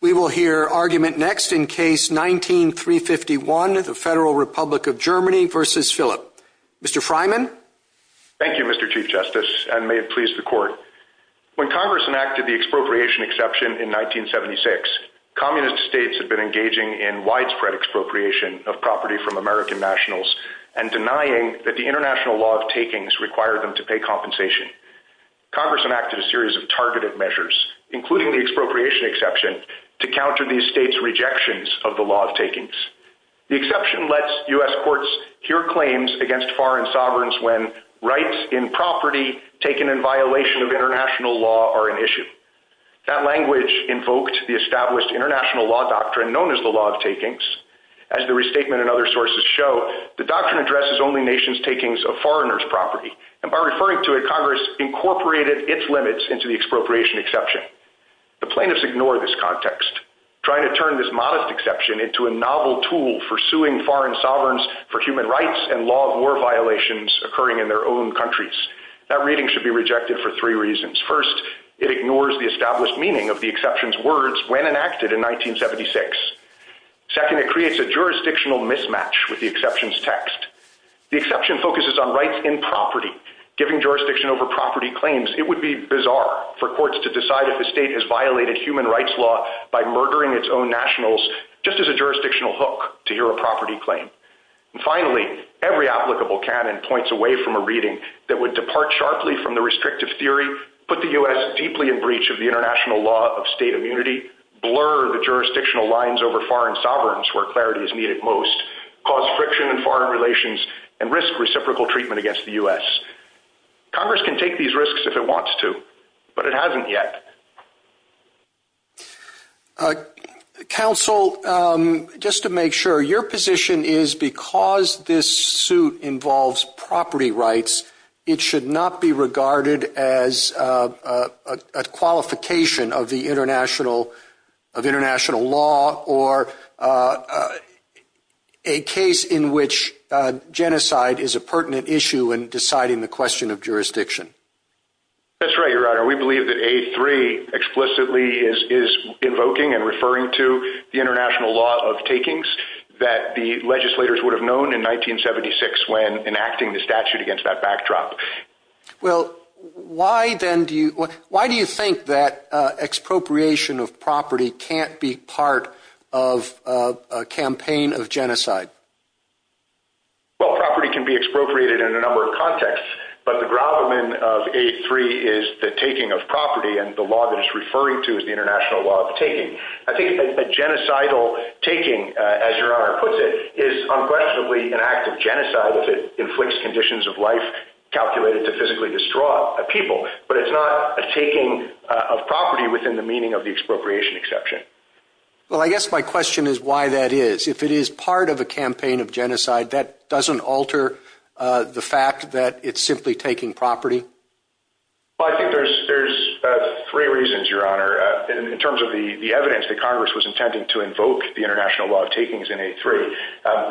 We will hear argument next in Case 19-351, the Federal Republic of Germany v. Philipp. Mr. Fryman? Thank you, Mr. Chief Justice, and may it please the Court. When Congress enacted the expropriation exception in 1976, communist states had been engaging in widespread expropriation of property from American nationals and denying that the international law of takings required them to pay compensation. Congress enacted a series of targeted measures, including the expropriation exception, to counter these states' rejections of the law of takings. The exception lets U.S. courts hear claims against foreign sovereigns when rights in property taken in violation of international law are an issue. That language invoked the established international law doctrine known as the law of takings. As the restatement and other sources show, and by referring to it, Congress incorporated its limits into the expropriation exception. The plaintiffs ignore this context, trying to turn this modest exception into a novel tool for suing foreign sovereigns for human rights and law of war violations occurring in their own countries. That reading should be rejected for three reasons. First, it ignores the established meaning of the exception's words when enacted in 1976. Second, it creates a jurisdictional mismatch with the exception's text. The exception focuses on rights in property. Giving jurisdiction over property claims, it would be bizarre for courts to decide that the state has violated human rights law by murdering its own nationals just as a jurisdictional hook to hear a property claim. Finally, every applicable canon points away from a reading that would depart sharply from the restrictive theory, put the U.S. deeply in breach of the international law of state immunity, blur the jurisdictional lines over foreign sovereigns where clarity is needed most, cause friction in foreign relations, and risk reciprocal treatment against the U.S. Congress can take these risks if it wants to, but it hasn't yet. Counsel, just to make sure, your position is because this suit involves property rights, it should not be regarded as a qualification of international law or a case in which genocide is a pertinent issue in deciding the question of jurisdiction. That's right, your honor. We believe that A3 explicitly is invoking and referring to the international law of takings that the legislators would have known in 1976 when enacting the statute against that backdrop. Well, why then do you think that expropriation of property can't be part of a campaign of genocide? Well, property can be expropriated in a number of contexts, but the gravamen of A3 is the taking of property and the law that it's referring to is the international law of taking. I think a genocidal taking, as your conditions of life calculated to physically destroy a people, but it's not a taking of property within the meaning of the expropriation exception. Well, I guess my question is why that is. If it is part of a campaign of genocide, that doesn't alter the fact that it's simply taking property? Well, I think there's three reasons, your honor, in terms of the evidence that Congress was intending to invoke the international law of takings in A3.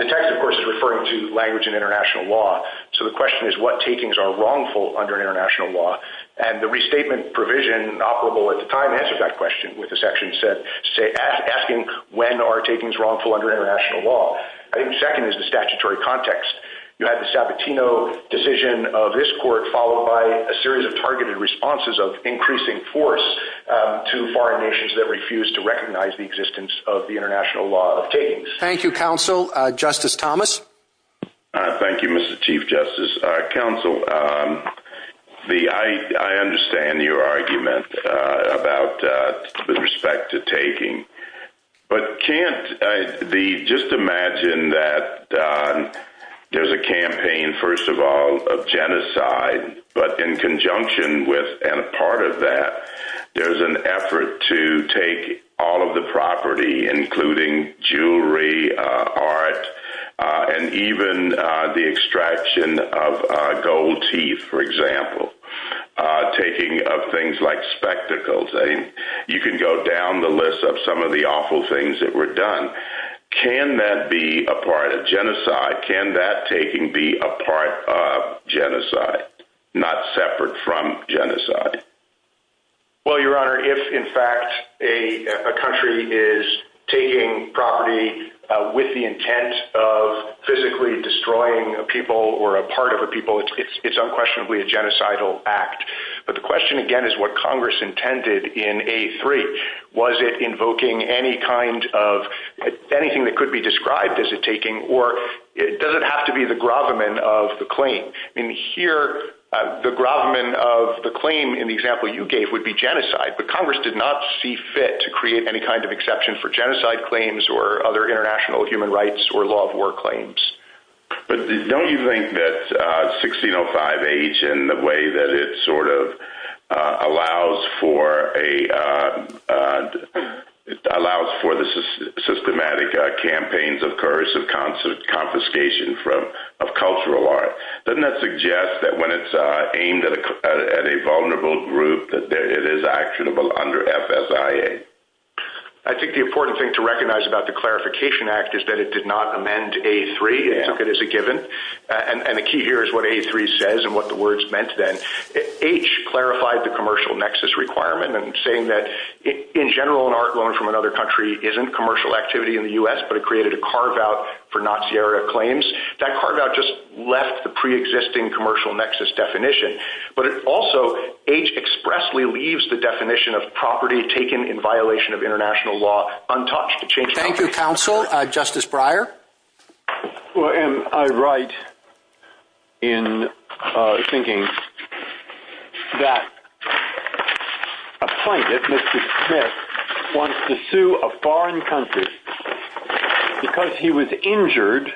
The text, of course, is referring to language of international law, so the question is what takings are wrongful under international law, and the restatement provision operable at the time answered that question with the section asking when are takings wrongful under international law. I think the second is the statutory context. You had the Sabatino decision of this court followed by a series of targeted responses of increasing force to foreign nations that refused to recognize the existence of the international law of takings. Thank you, counsel. Justice Thomas. Thank you, Mr. Chief Justice. Counsel, I understand your argument about the respect to taking, but just imagine that there's a campaign, first of all, of genocide, but in conjunction with and part of that, there's an effort to take all of the property, including jewelry, art, and even the extraction of gold teeth, for example, taking of things like spectacles. You can go down the list of some of the awful things that were done. Can that be a part of genocide, not separate from genocide? Well, Your Honor, if, in fact, a country is taking property with the intent of physically destroying a people or a part of a people, it's unquestionably a genocidal act, but the question, again, is what Congress intended in A3. Was it invoking anything that could be described as a taking, or does it have to be the gravamen of the claim? Here, the gravamen of the claim in the example you gave would be genocide, but Congress did not see fit to create any kind of exception for genocide claims or other international human rights or law of war claims. Don't you think that 1605H and the way that it allows for the systematic campaigns of coercive confiscation of cultural art, doesn't that suggest that when it's aimed at a vulnerable group, that it is actionable under FSIA? I think the important thing to recognize about the Clarification Act is that it did not amend A3 and took it as a given, and the key here is what A3 says and what the words meant then. H clarified the commercial nexus requirement and saying that, in general, an art loan from another country isn't commercial activity in the U.S., but it created a carve-out for Nazi-era claims. That carve-out just left the pre-existing commercial nexus definition, but it also, H expressly leaves the definition of property taken in violation of international law untouched. Thank you, Counsel. Justice Breyer? Well, and I write in thinking that a pundit, Mr. Smith, wants to sue a foreign country because he was injured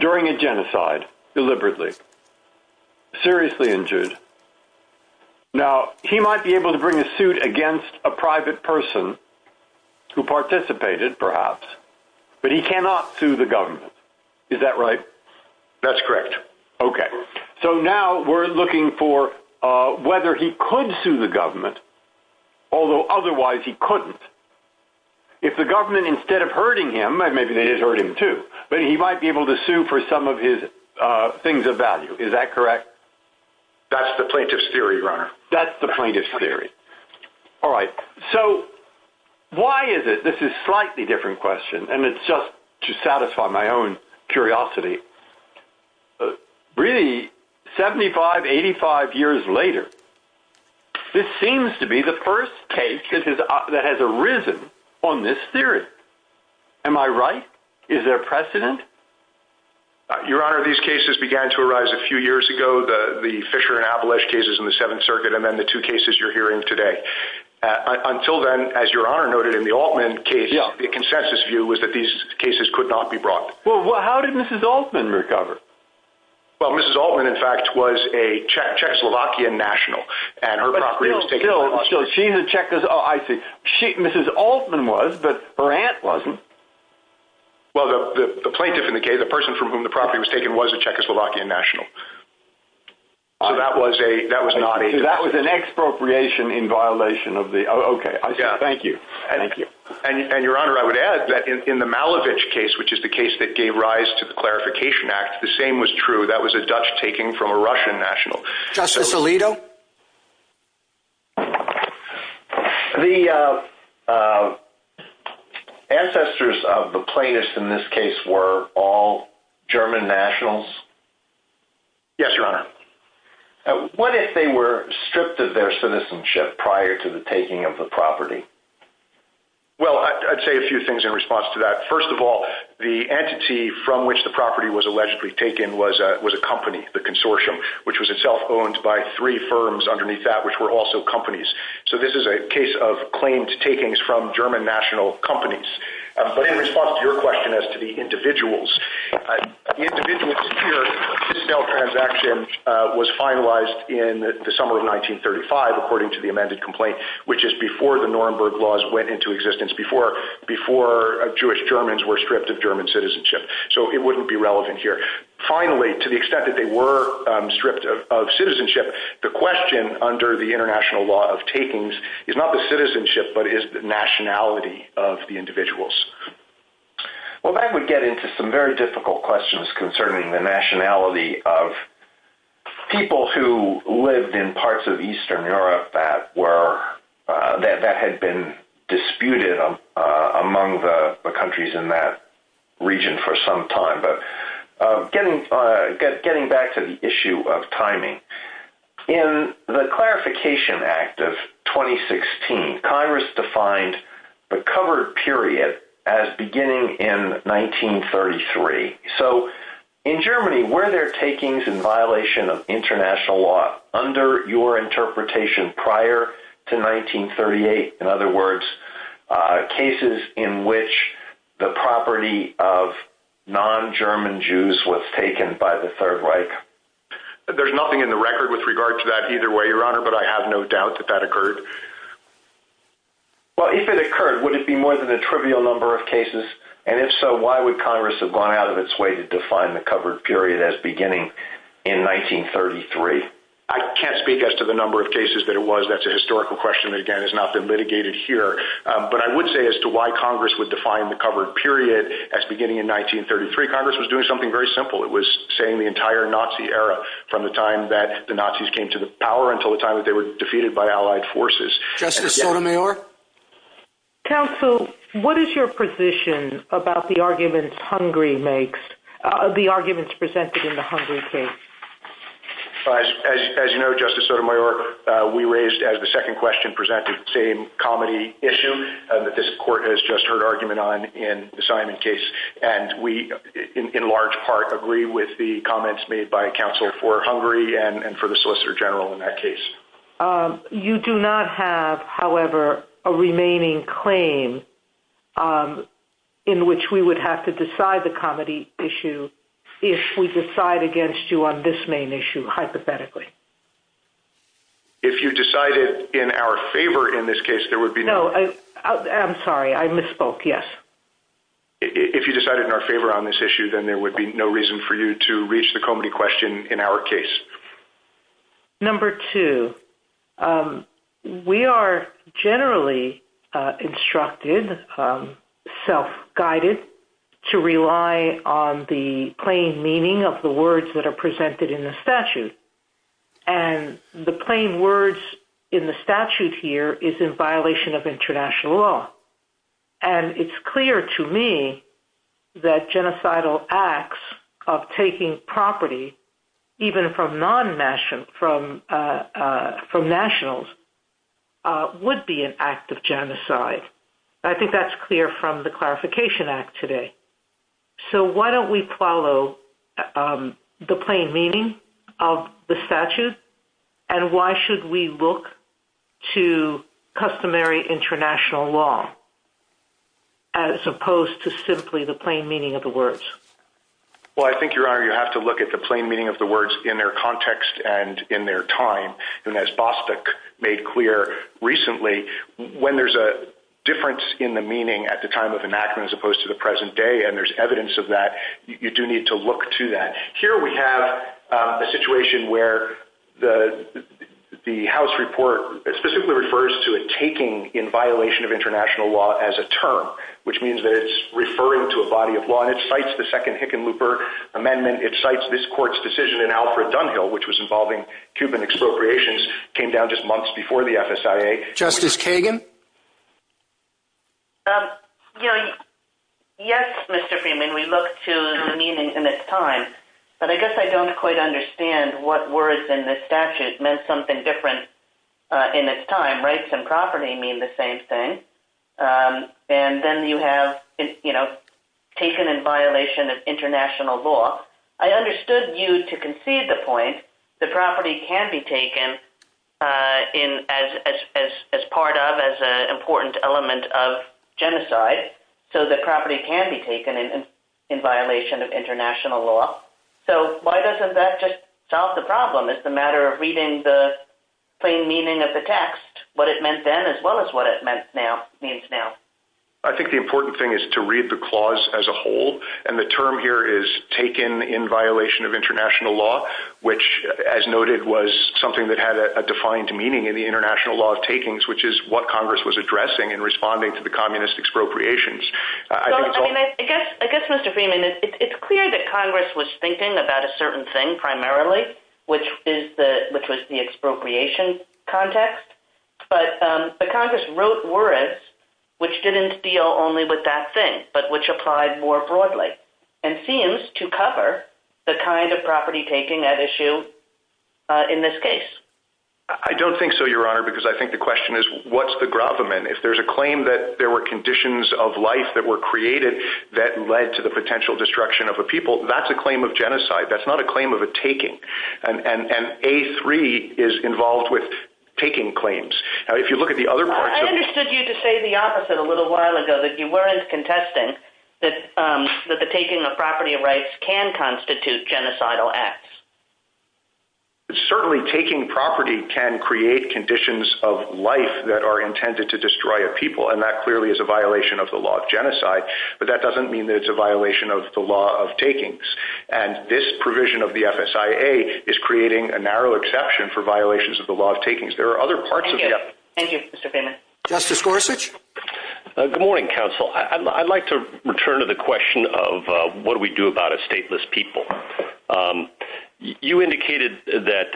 during a genocide, deliberately, seriously injured. Now, he might be able to bring a person who participated, perhaps, but he cannot sue the government, is that right? That's correct. Okay. So now we're looking for whether he could sue the government, although otherwise he couldn't. If the government, instead of hurting him, and maybe they did hurt him too, but he might be able to sue for some of his things of value, is that correct? That's the plaintiff's theory, Your Honor. That's the plaintiff's theory. All right. So why is it, this is a slightly different question, and it's just to satisfy my own curiosity, but really, 75, 85 years later, this seems to be the first case that has arisen on this theory. Am I right? Is there precedent? Your Honor, these cases began to arise a few years ago, the Fisher and Abolish cases in the Seventh Circuit, and then the two cases you're hearing today. Until then, as Your Honor noted, in the Altman case, the consensus view was that these cases could not be brought. Well, how did Mrs. Altman recover? Well, Mrs. Altman, in fact, was a Czechoslovakian national, and her property was taken- But still, she had Czechoslovakian... Oh, I see. Mrs. Altman was, but her aunt wasn't. Well, the plaintiff in the case, the person from whom the property was taken, was a Czechoslovakian national. So that was not a- That was an expropriation in violation of the- Oh, okay. I see. Thank you. Thank you. And Your Honor, I would add that in the Malevich case, which is the case that gave rise to the Clarification Act, the same was true. That was a Dutch taking from a Russian national. Justice Alito? The ancestors of the plaintiffs in this case were all German nationals? Yes, Your Honor. What if they were stripped of their citizenship prior to the taking of the property? Well, I'd say a few things in response to that. First of all, the entity from which the property was allegedly taken was a company, the consortium, which was itself owned by three firms underneath that, which were also companies. So this is a case of claims takings from German national companies. But in response to your question as to the individuals, the individuals here, this sale transaction was finalized in the summer of 1935, according to the amended complaint, which is before the Nuremberg Laws went into existence, before Jewish Germans were stripped of German citizenship. So it wouldn't be relevant here. Finally, to the extent that they were stripped of citizenship, the question under the International Law of Takings is not the citizenship, but it is the nationality of the individuals. Well, that would get into some very difficult questions concerning the nationality of people who lived in parts of Eastern Europe that had been disputed among the countries in that region for some time. But getting back to the issue of timing, in the Clarification Act of 2016, Congress defined the covered period as beginning in 1933. So in Germany, were there takings in violation of international law under your interpretation prior to 1938? In other words, cases in which the property of non-German Jews was taken by the Third Reich? There's nothing in the record with regard to that either way, Your Honor, but I have no doubt that that occurred. Well, if it occurred, would it be more than a trivial number of cases? And if so, why would Congress have gone out of its way to define the covered period as beginning in 1933? I can't speak as to the number of cases that it was. That's a historical question, again, has not been mitigated here. But I would say as to why Congress would define the covered period as beginning in 1933, Congress was doing something very simple. It was saying the entire Nazi era, from the time that the Nazis came to the power until the time that they were defeated by Allied forces. Justice Sotomayor? Counsel, what is your position about the arguments presented in the Hungary case? As you know, Justice Sotomayor, we raised, as the second question presented, the same comedy issue that this Court has just heard argument on in the Simon case. And we, in large part, agree with the comments made by counsel for Hungary and for the Solicitor General in that case. You do not have, however, a remaining claim in which we would have to decide the comedy issue if we decide against you on this main issue, hypothetically. If you decided in our favor in this case, there would be no... If you decided in our favor on this issue, then there would be no reason for you to reach the comedy question in our case. Number two, we are generally instructed, self-guided, to rely on the plain meaning of the words that are presented in the statute. And the plain words in the statute here is in violation of international law. And it's clear to me that genocidal acts of taking property, even from nationals, would be an act of genocide. I think that's clear from the Clarification Act today. So why don't we follow the plain meaning of the statute? And why should we look to customary international law as opposed to simply the plain meaning of the words? Well, I think, Your Honor, you have to look at the plain meaning of the words in their context and in their time. And as Bostick made clear recently, when there's a difference in the meaning at the time of enactment as opposed to the present day, and there's evidence of that, you do need to look to that. Here we have a situation where the House report specifically refers to a taking in violation of international law as a term, which means that it's referring to a body of law. And it cites the second Hickenlooper Amendment. It cites this court's decision in Alfred Dunhill, which was involving Cuban expropriations, came down just months before the FSIA. Justice Kagan? Yes, Mr. Freeman, we look to the meaning in its time. But I guess I don't quite understand what words in the statute meant something different in its time. Rights and property mean the same thing. And then you have, you know, taken in violation of international law. I understood you to concede the point that property can be taken in as part of, as an important element of genocide, so that property can be taken in violation of international law. So why doesn't that just solve the problem? It's a matter of reading the plain meaning of the text, what it meant then as well as what it means now. I think the important thing is to read the clause as a whole. And the term here is taken in violation of international law, which, as noted, was something that had a defined meaning in the international law of takings, which is what Congress was addressing and responding to the communist expropriations. I guess, Mr. Freeman, it's clear that Congress was thinking about a certain thing primarily, which was the expropriation context. But the Congress wrote warrants, which didn't deal only with that thing, but which applied more broadly, and seems to cover the kind of property taking that issue in this case. I don't think so, Your Honor, because I think the question is, what's the gravamen? If there's a claim that there were conditions of life that were created that led to the potential destruction of a people, that's a claim of genocide. That's involved with taking claims. Now, if you look at the other parts of the- I understood you to say the opposite a little while ago, that you weren't contesting that the taking of property rights can constitute genocidal acts. Certainly, taking property can create conditions of life that are intended to destroy a people, and that clearly is a violation of the law of genocide. But that doesn't mean that it's a violation of the law of takings. And this provision of the FSIA is creating a narrow exception for violations of the law of takings. There are other parts of- Thank you. Thank you, Mr. Feynman. Justice Gorsuch? Good morning, counsel. I'd like to return to the question of what do we do about a stateless people? You indicated that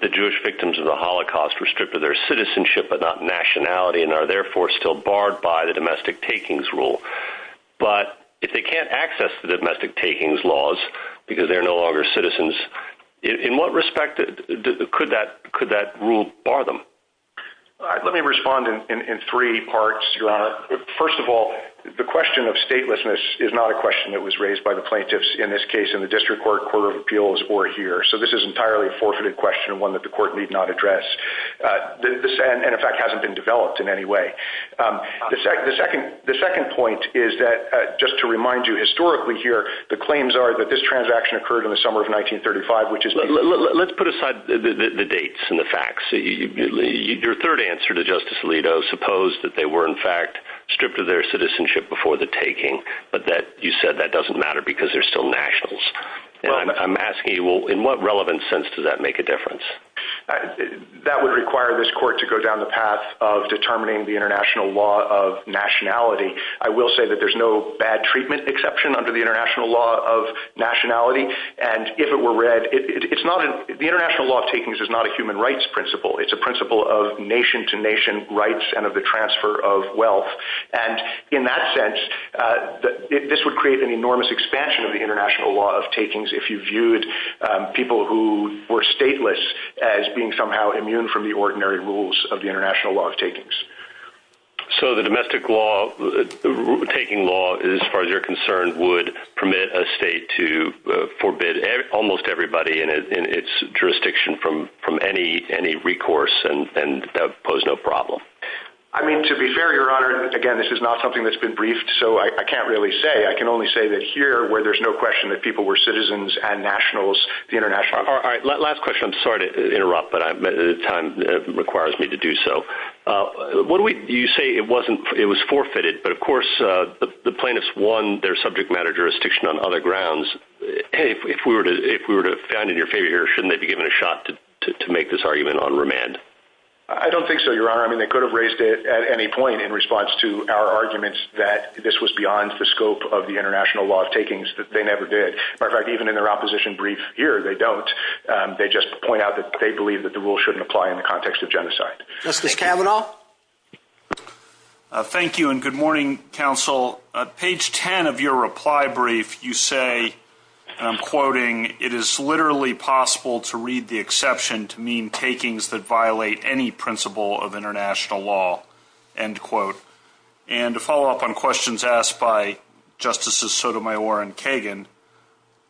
the Jewish victims of the Holocaust were stripped of their citizenship, but not nationality, and are therefore still barred by the domestic takings rule. But if they can't access the domestic takings laws because they're no longer citizens, in what respect could that rule bar them? Let me respond in three parts, Your Honor. First of all, the question of statelessness is not a question that was raised by the plaintiffs in this case in the district court, court of appeals, or here. So this is entirely a forfeited question, one that the court need not address, and in fact hasn't been developed in any way. The second point is that, just to remind you, the claims are that this transaction occurred in the summer of 1935, which is- Let's put aside the dates and the facts. Your third answer to Justice Alito, suppose that they were in fact stripped of their citizenship before the taking, but that you said that doesn't matter because they're still nationals. I'm asking you, in what relevant sense does that make a difference? That would require this court to go down the path of determining the international law of taking under the international law of nationality, and if it were read- The international law of takings is not a human rights principle, it's a principle of nation to nation rights and of the transfer of wealth. And in that sense, this would create an enormous expansion of the international law of takings if you viewed people who were stateless as being somehow immune from the ordinary rules of the international law of takings. So the domestic law, taking law, as far as you're concerned, would permit a state to forbid almost everybody in its jurisdiction from any recourse and pose no problem? I mean, to be fair, Your Honor, again, this is not something that's been briefed, so I can't really say. I can only say that here, where there's no question that people were citizens and nationals, the international- All right, last question. I'm sorry to interrupt, but time requires me to do so. You say it was forfeited, but of course, the plaintiffs won their subject matter jurisdiction on other grounds. If we were to find in your favor, shouldn't they be given a shot to make this argument on remand? I don't think so, Your Honor. I mean, they could have raised it at any point in response to our arguments that this was beyond the scope of the international law of takings, that they never did. Matter of fact, even in their opposition brief here, they don't. They just point out that they believe that the rule shouldn't apply in the context of genocide. Justice Kavanaugh? Thank you, and good morning, counsel. Page 10 of your reply brief, you say, and I'm quoting, it is literally possible to read the exception to mean takings that violate any principle of international law, end quote. And to follow up on questions asked by Justices Sotomayor and Kagan,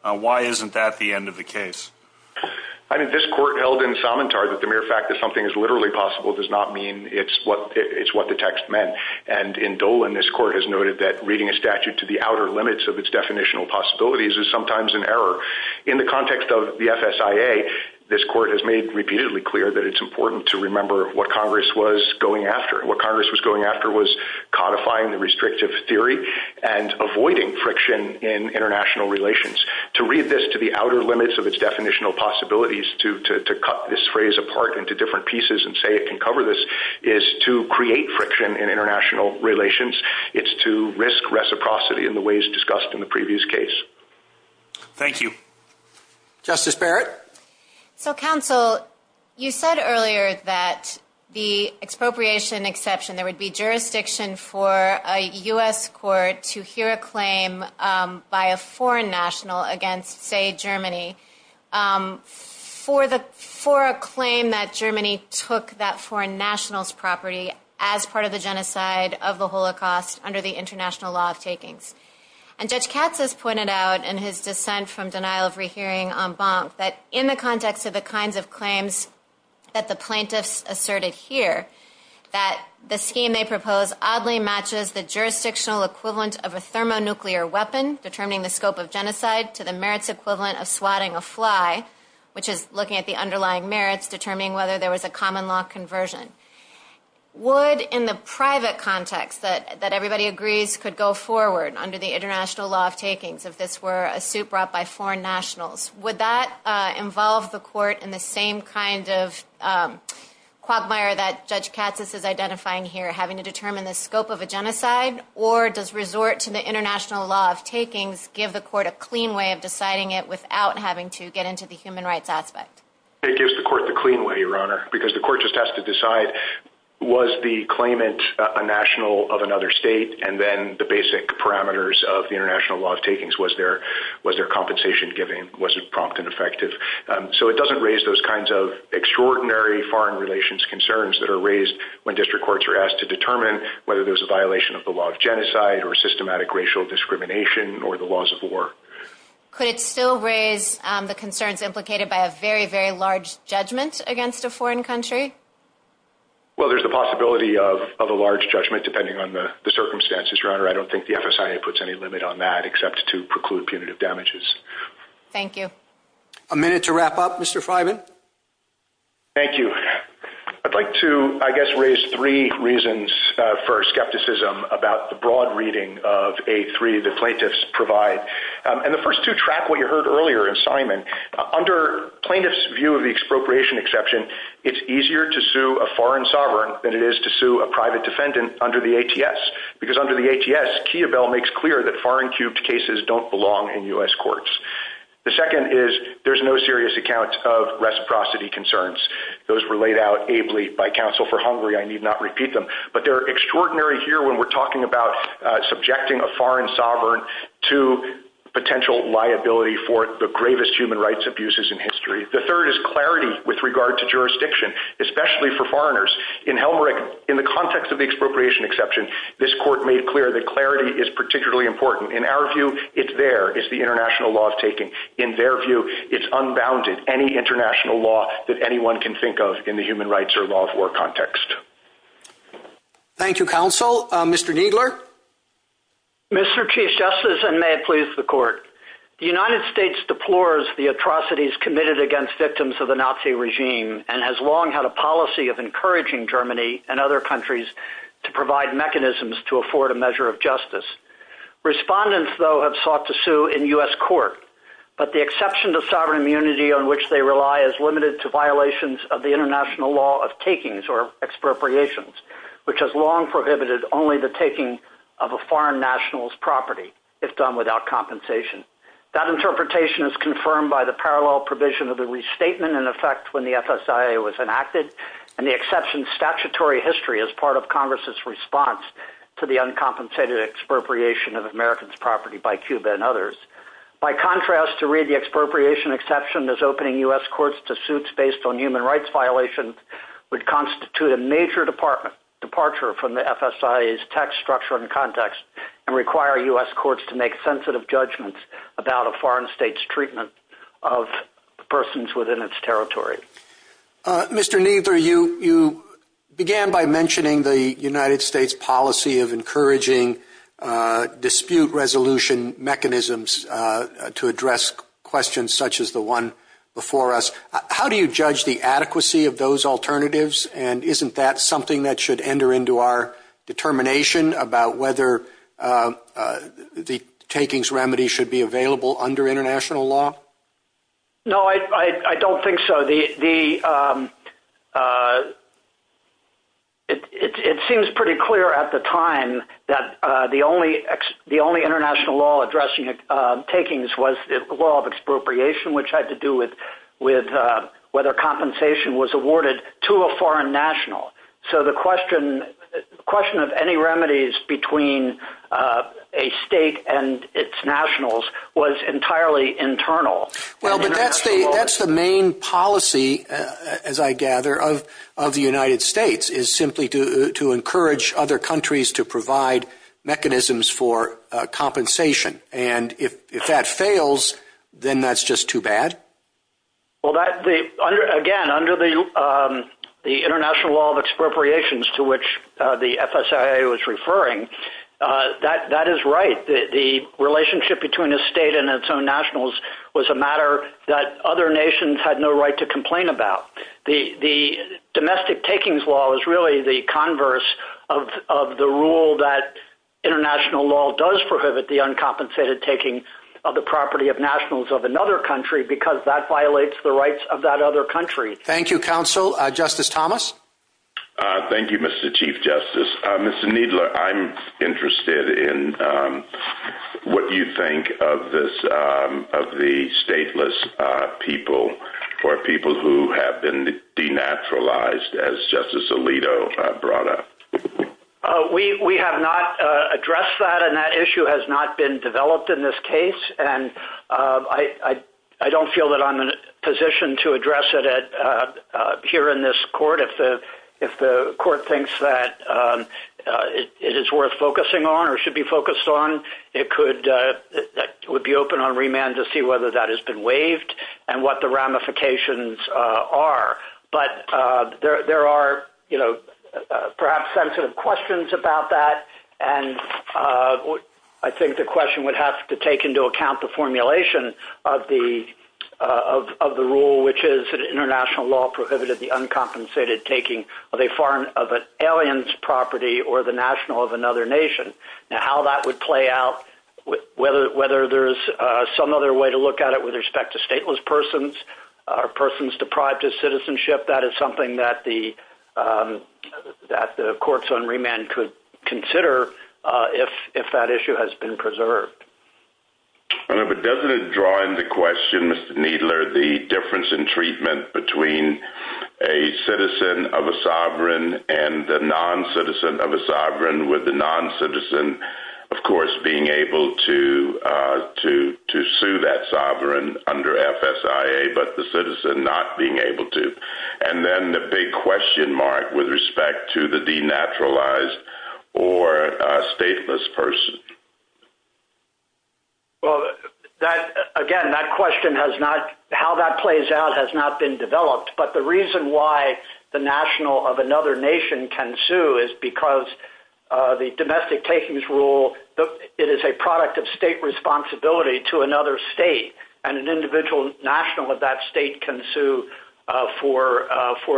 why isn't that the end of the case? I mean, this court held in somentard that the mere fact that something is literally possible does not mean it's what the text meant. And in Dolan, this court has noted that reading a statute to the outer limits of its definitional possibilities is sometimes an error. In the context of the FSIA, this court has made repeatedly clear that it's important to remember what Congress was going after. What Congress was going after was codifying the restrictive theory and read this to the outer limits of its definitional possibilities to cut this phrase apart into different pieces and say it can cover this, is to create friction in international relations. It's to risk reciprocity in the ways discussed in the previous case. Thank you. Justice Barrett? So, counsel, you said earlier that the expropriation exception, there would be jurisdiction for a U.S. court to hear a claim by a foreign national against, say, Germany for a claim that Germany took that foreign national's property as part of the genocide of the Holocaust under the international law of takings. And Judge Katz has pointed out in his dissent from denial of rehearing en banc that in the context of the kinds of claims that the plaintiffs asserted here, that the scheme they propose oddly matches the jurisdictional equivalent of a thermonuclear weapon, determining the scope of genocide to the merits equivalent of swatting a fly, which is looking at the underlying merits, determining whether there was a common law conversion. Would, in the private context that everybody agrees could go forward under the international law of takings, if this were a suit brought by foreign nationals, would that identify here having to determine the scope of a genocide or does resort to the international law of takings give the court a clean way of deciding it without having to get into the human rights aspect? It gives the court the clean way, Your Honor, because the court just has to decide, was the claimant a national of another state? And then the basic parameters of the international law of takings, was there compensation given? Was it prompt and effective? So it doesn't raise those extraordinary foreign relations concerns that are raised when district courts are asked to determine whether there's a violation of the law of genocide or systematic racial discrimination or the laws of war. Could it still raise the concerns implicated by a very, very large judgment against a foreign country? Well, there's the possibility of a large judgment depending on the circumstances, Your Honor. I don't think the FSIA puts any limit on that except to preclude punitive damages. Thank you. A minute to wrap up, Mr. Freiman. Thank you. I'd like to, I guess, raise three reasons for skepticism about the broad reading of a three the plaintiffs provide. And the first two track what you heard earlier in Simon. Under plaintiff's view of the expropriation exception, it's easier to sue a foreign sovereign than it is to sue a private defendant under the ATS. Because under the ATS, Kia Bell makes clear that foreign cubed cases don't belong in U.S. courts. The second is there's no serious accounts of reciprocity concerns. Those were laid out ably by counsel for Hungary. I need not repeat them, but they're extraordinary here when we're talking about subjecting a foreign sovereign to potential liability for the gravest human rights abuses in history. The third is clarity with regard to jurisdiction, especially for this court made clear that clarity is particularly important. In our view, it's there is the international law of taking in their view. It's unbounded, any international law that anyone can think of in the human rights or law of war context. Thank you, counsel. Mr. Giegler. Mr. Chief Justice, and may it please the court. The United States deplores the atrocities committed against victims of the Nazi regime and has long had a policy of encouraging Germany and other countries to provide mechanisms to afford a measure of justice. Respondents, though, have sought to sue in U.S. court, but the exception to sovereign immunity on which they rely is limited to violations of the international law of takings or expropriations, which has long prohibited only the taking of a foreign national's property if done without compensation. That interpretation is confirmed by the parallel provision of the restatement in effect when the FSIA was enacted, and the exception's statutory history as part of Congress's response to the uncompensated expropriation of Americans' property by Cuba and others. By contrast, to read the expropriation exception as opening U.S. courts to suits based on human rights violations would constitute a major departure from the FSIA's tax structure and context and require U.S. courts to make sensitive judgments about a of persons within its territory. Mr. Kneedler, you began by mentioning the United States policy of encouraging dispute resolution mechanisms to address questions such as the one before us. How do you judge the adequacy of those alternatives, and isn't that something that should enter into our determination about whether the takings remedy should be available under international law? No, I don't think so. It seems pretty clear at the time that the only international law addressing takings was the law of expropriation, which had to do with whether compensation was awarded to a foreign national. So the question of any remedies between a state and its nationals was entirely internal. Well, but that's the main policy, as I gather, of the United States, is simply to encourage other countries to provide mechanisms for compensation. And if that fails, then that's just too bad. Well, again, under the that is right. The relationship between a state and its own nationals was a matter that other nations had no right to complain about. The domestic takings law is really the converse of the rule that international law does prohibit the uncompensated taking of the property of nationals of another country because that violates the rights of that other country. Thank you, counsel. Justice Thomas? Thank you, Mr. Chief Justice. Mr. Kneedler, I'm interested in what you think of the stateless people or people who have been denaturalized, as Justice Alito brought up. We have not addressed that, and that issue has not been developed in this case. And I don't feel that I'm in a position to address it here in this court. If the court thinks that it is worth focusing on or should be focused on, it would be open on remand to see whether that has been waived and what the ramifications are. But there are, perhaps, some questions about that. And I think the question would have to take into account the formulation of the rule, which is that international law prohibited the uncompensated taking of an alien's property or the national of another nation. Now, how that would play out, whether there's some other way to look at it with respect to stateless persons, persons deprived of citizenship, that is something that the courts on remand could consider if that issue has been preserved. But doesn't it draw into question, Mr. Kneedler, the difference in treatment between a citizen of a sovereign and a non-citizen of a sovereign, with the non-citizen, of course, being able to sue that sovereign under FSIA, but the citizen not being able to? And then the big question mark with respect to the denaturalized or stateless person. Well, again, that question has not, how that plays out has not been developed. But the reason why the national of another nation can sue is because the domestic takings rule, it is a product of state responsibility to another state, and an individual national of that state can sue for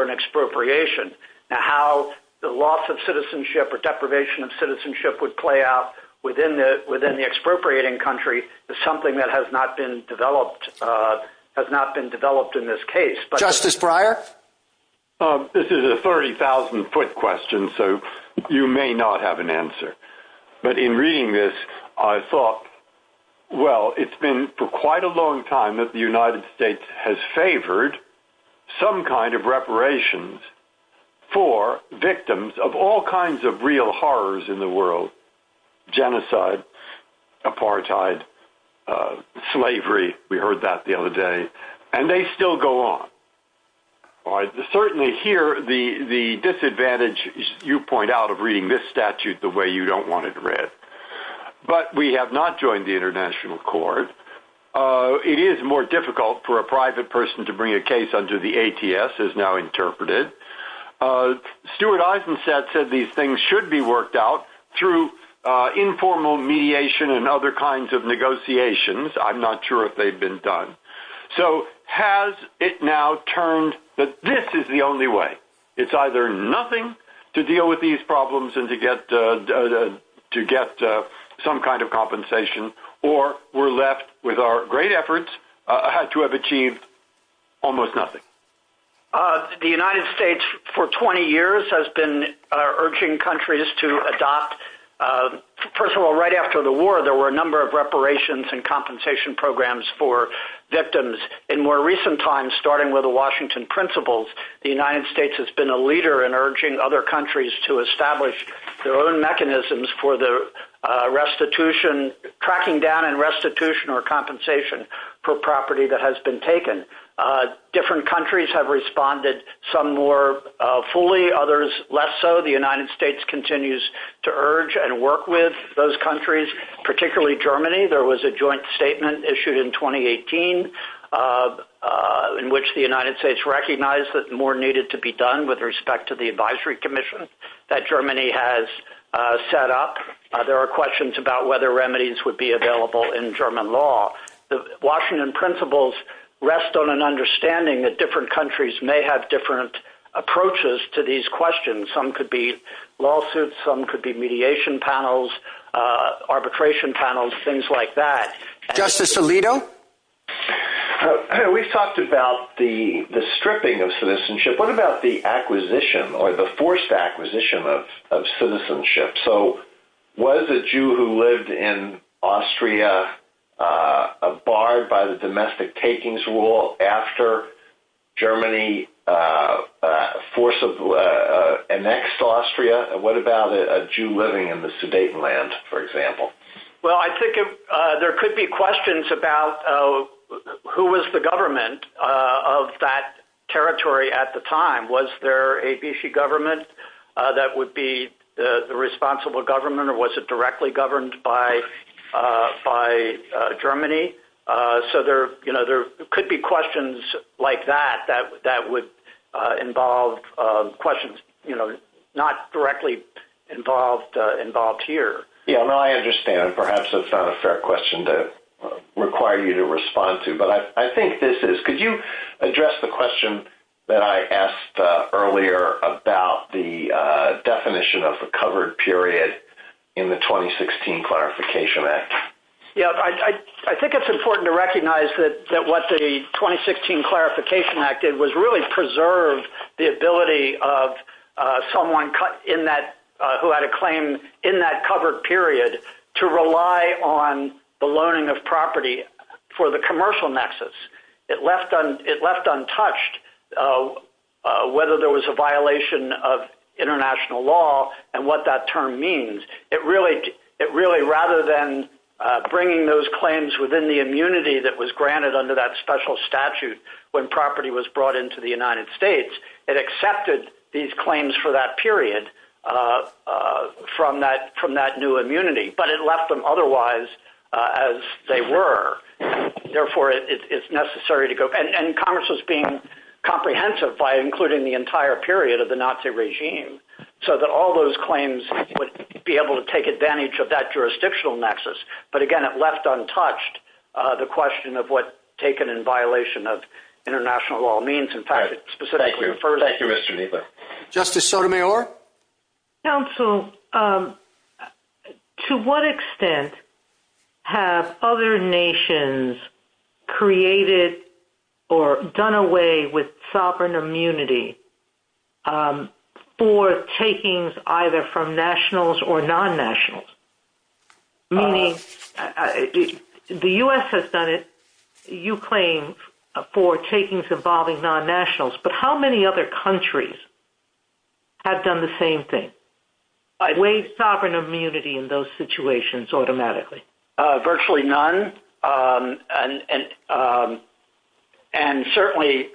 an expropriation. Now, how the loss of citizenship or deprivation of citizenship would play out within the expropriating country is something that has not been developed in this case. Justice Breyer? This is a 30,000-foot question, so you may not have an answer. But in reading this, I thought, well, it's been for quite a long time that the United States has favored some kind of reparations for victims of all kinds of real horrors in the world. Genocide, apartheid, slavery, we heard that the other day, and they still go on. Certainly here, the disadvantage, you point out, of reading this statute the way you don't want it a case under the ATS is now interpreted. Stuart Eisenstadt said these things should be worked out through informal mediation and other kinds of negotiations. I'm not sure if they've been done. So has it now turned that this is the only way? It's either nothing to deal with these problems to get some kind of compensation, or we're left with our great efforts, had to have achieved almost nothing. The United States for 20 years has been urging countries to adopt. First of all, right after the war, there were a number of reparations and compensation programs for victims. In more recent times, starting with the Washington Principles, the United States has been a leader in urging other countries to establish their own mechanisms for the restitution, tracking down and restitution or compensation for property that has been taken. Different countries have responded some more fully, others less so. The United States continues to urge and work with those countries, particularly Germany. There was a joint statement issued in 2018 in which the United States recognized that more needed to be done with respect to the advisory commission that Germany has set up. There are questions about whether remedies would be available in German law. The Washington Principles rest on an understanding that different countries may have different approaches to these questions. Some could be lawsuits, some could be mediation panels, arbitration panels, things like that. Justice Alito? We've talked about the stripping of citizenship. What about the acquisition or the forced acquisition of citizenship? Was a Jew who lived in Austria barred by the domestic takings rule after Germany forcibly annexed Austria? What about a Jew living in the Sudetenland, for example? Well, I think there could be questions about who was the government of that territory at the time. Was there a B.C. government that would be the responsible government or was it directly governed by Germany? There could be questions like that that would involve questions not directly involved here. I understand. Perhaps it's not a fair question to require you to respond to, but I think this is. Could you address the question that I asked earlier about the definition of a covered period in the 2016 Clarification Act? I think it's important to recognize that what the 2016 Clarification Act did was really preserve the ability of someone who had a claim in that covered period to rely on the loaning of property for the commercial nexus. It left untouched whether there was a violation of international law and what that term means. Rather than bringing those claims within the immunity that was granted under that special statute when property was brought into the United States, it accepted these claims for that period from that new immunity, but it left them otherwise as they were. Therefore, it's necessary to go. Congress was being comprehensive by including the entire period of the Nazi regime so that all those claims would be able to take advantage of that jurisdictional nexus. Again, it left untouched the question of what taken in violation of international law means. In fact, it specifically refers to that period. Justice Sotomayor? Counsel, to what extent have other nations created or done away with sovereign immunity for takings either from nationals or non-nationals? The U.S. has done it, you claim, for takings involving non-nationals, but how many other countries have done the same thing, waived sovereign immunity in those situations automatically? Virtually none. Certainly,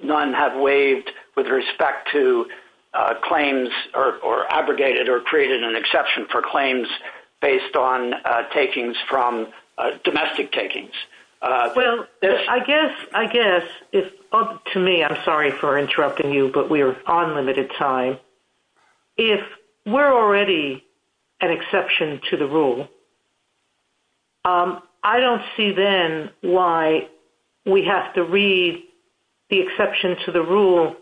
none have waived with respect to claims or abrogated or created an exception for claims based on domestic takings. I guess, to me, I'm sorry for interrupting you, but we are on limited time. If we're already an exception to the rule, I don't see then why we have to read the exception to the rule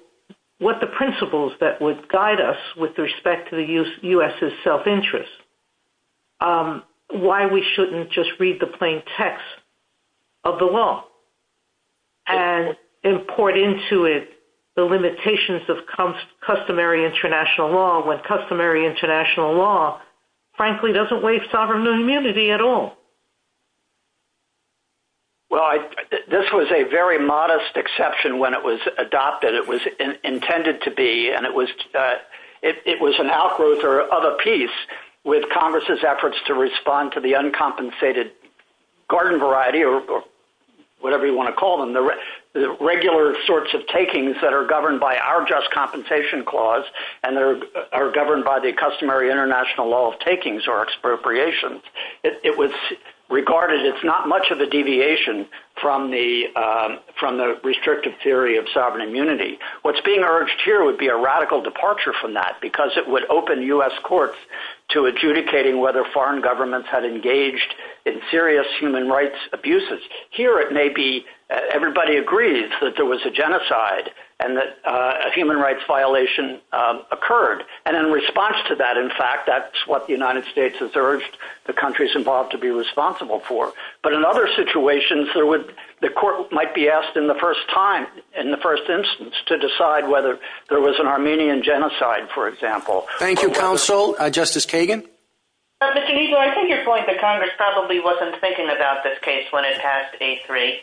with the principles that would guide us with respect to the U.S.'s self-interest. Why we shouldn't just read the customary international law when customary international law, frankly, doesn't waive sovereign immunity at all? This was a very modest exception when it was adopted. It was intended to be, and it was an outgrowth of a piece with Congress' efforts to respond to the uncompensated garden variety, or whatever you want to call them, the regular sorts of takings that are compensation clause and are governed by the customary international law of takings or expropriations. It was regarded as not much of a deviation from the restrictive theory of sovereign immunity. What's being urged here would be a radical departure from that because it would open U.S. courts to adjudicating whether foreign governments had engaged in serious human rights abuses. Here, it may be everybody agrees that there was a genocide and that a human rights violation occurred. In response to that, in fact, that's what the United States has urged the countries involved to be responsible for. In other situations, the court might be asked in the first time, in the first instance, to decide whether there was an Armenian genocide, for example. Thank you, Counsel. Justice Kagan? Mr. Kneedler, I think you're going to Congress probably wasn't thinking about this case when it has A3,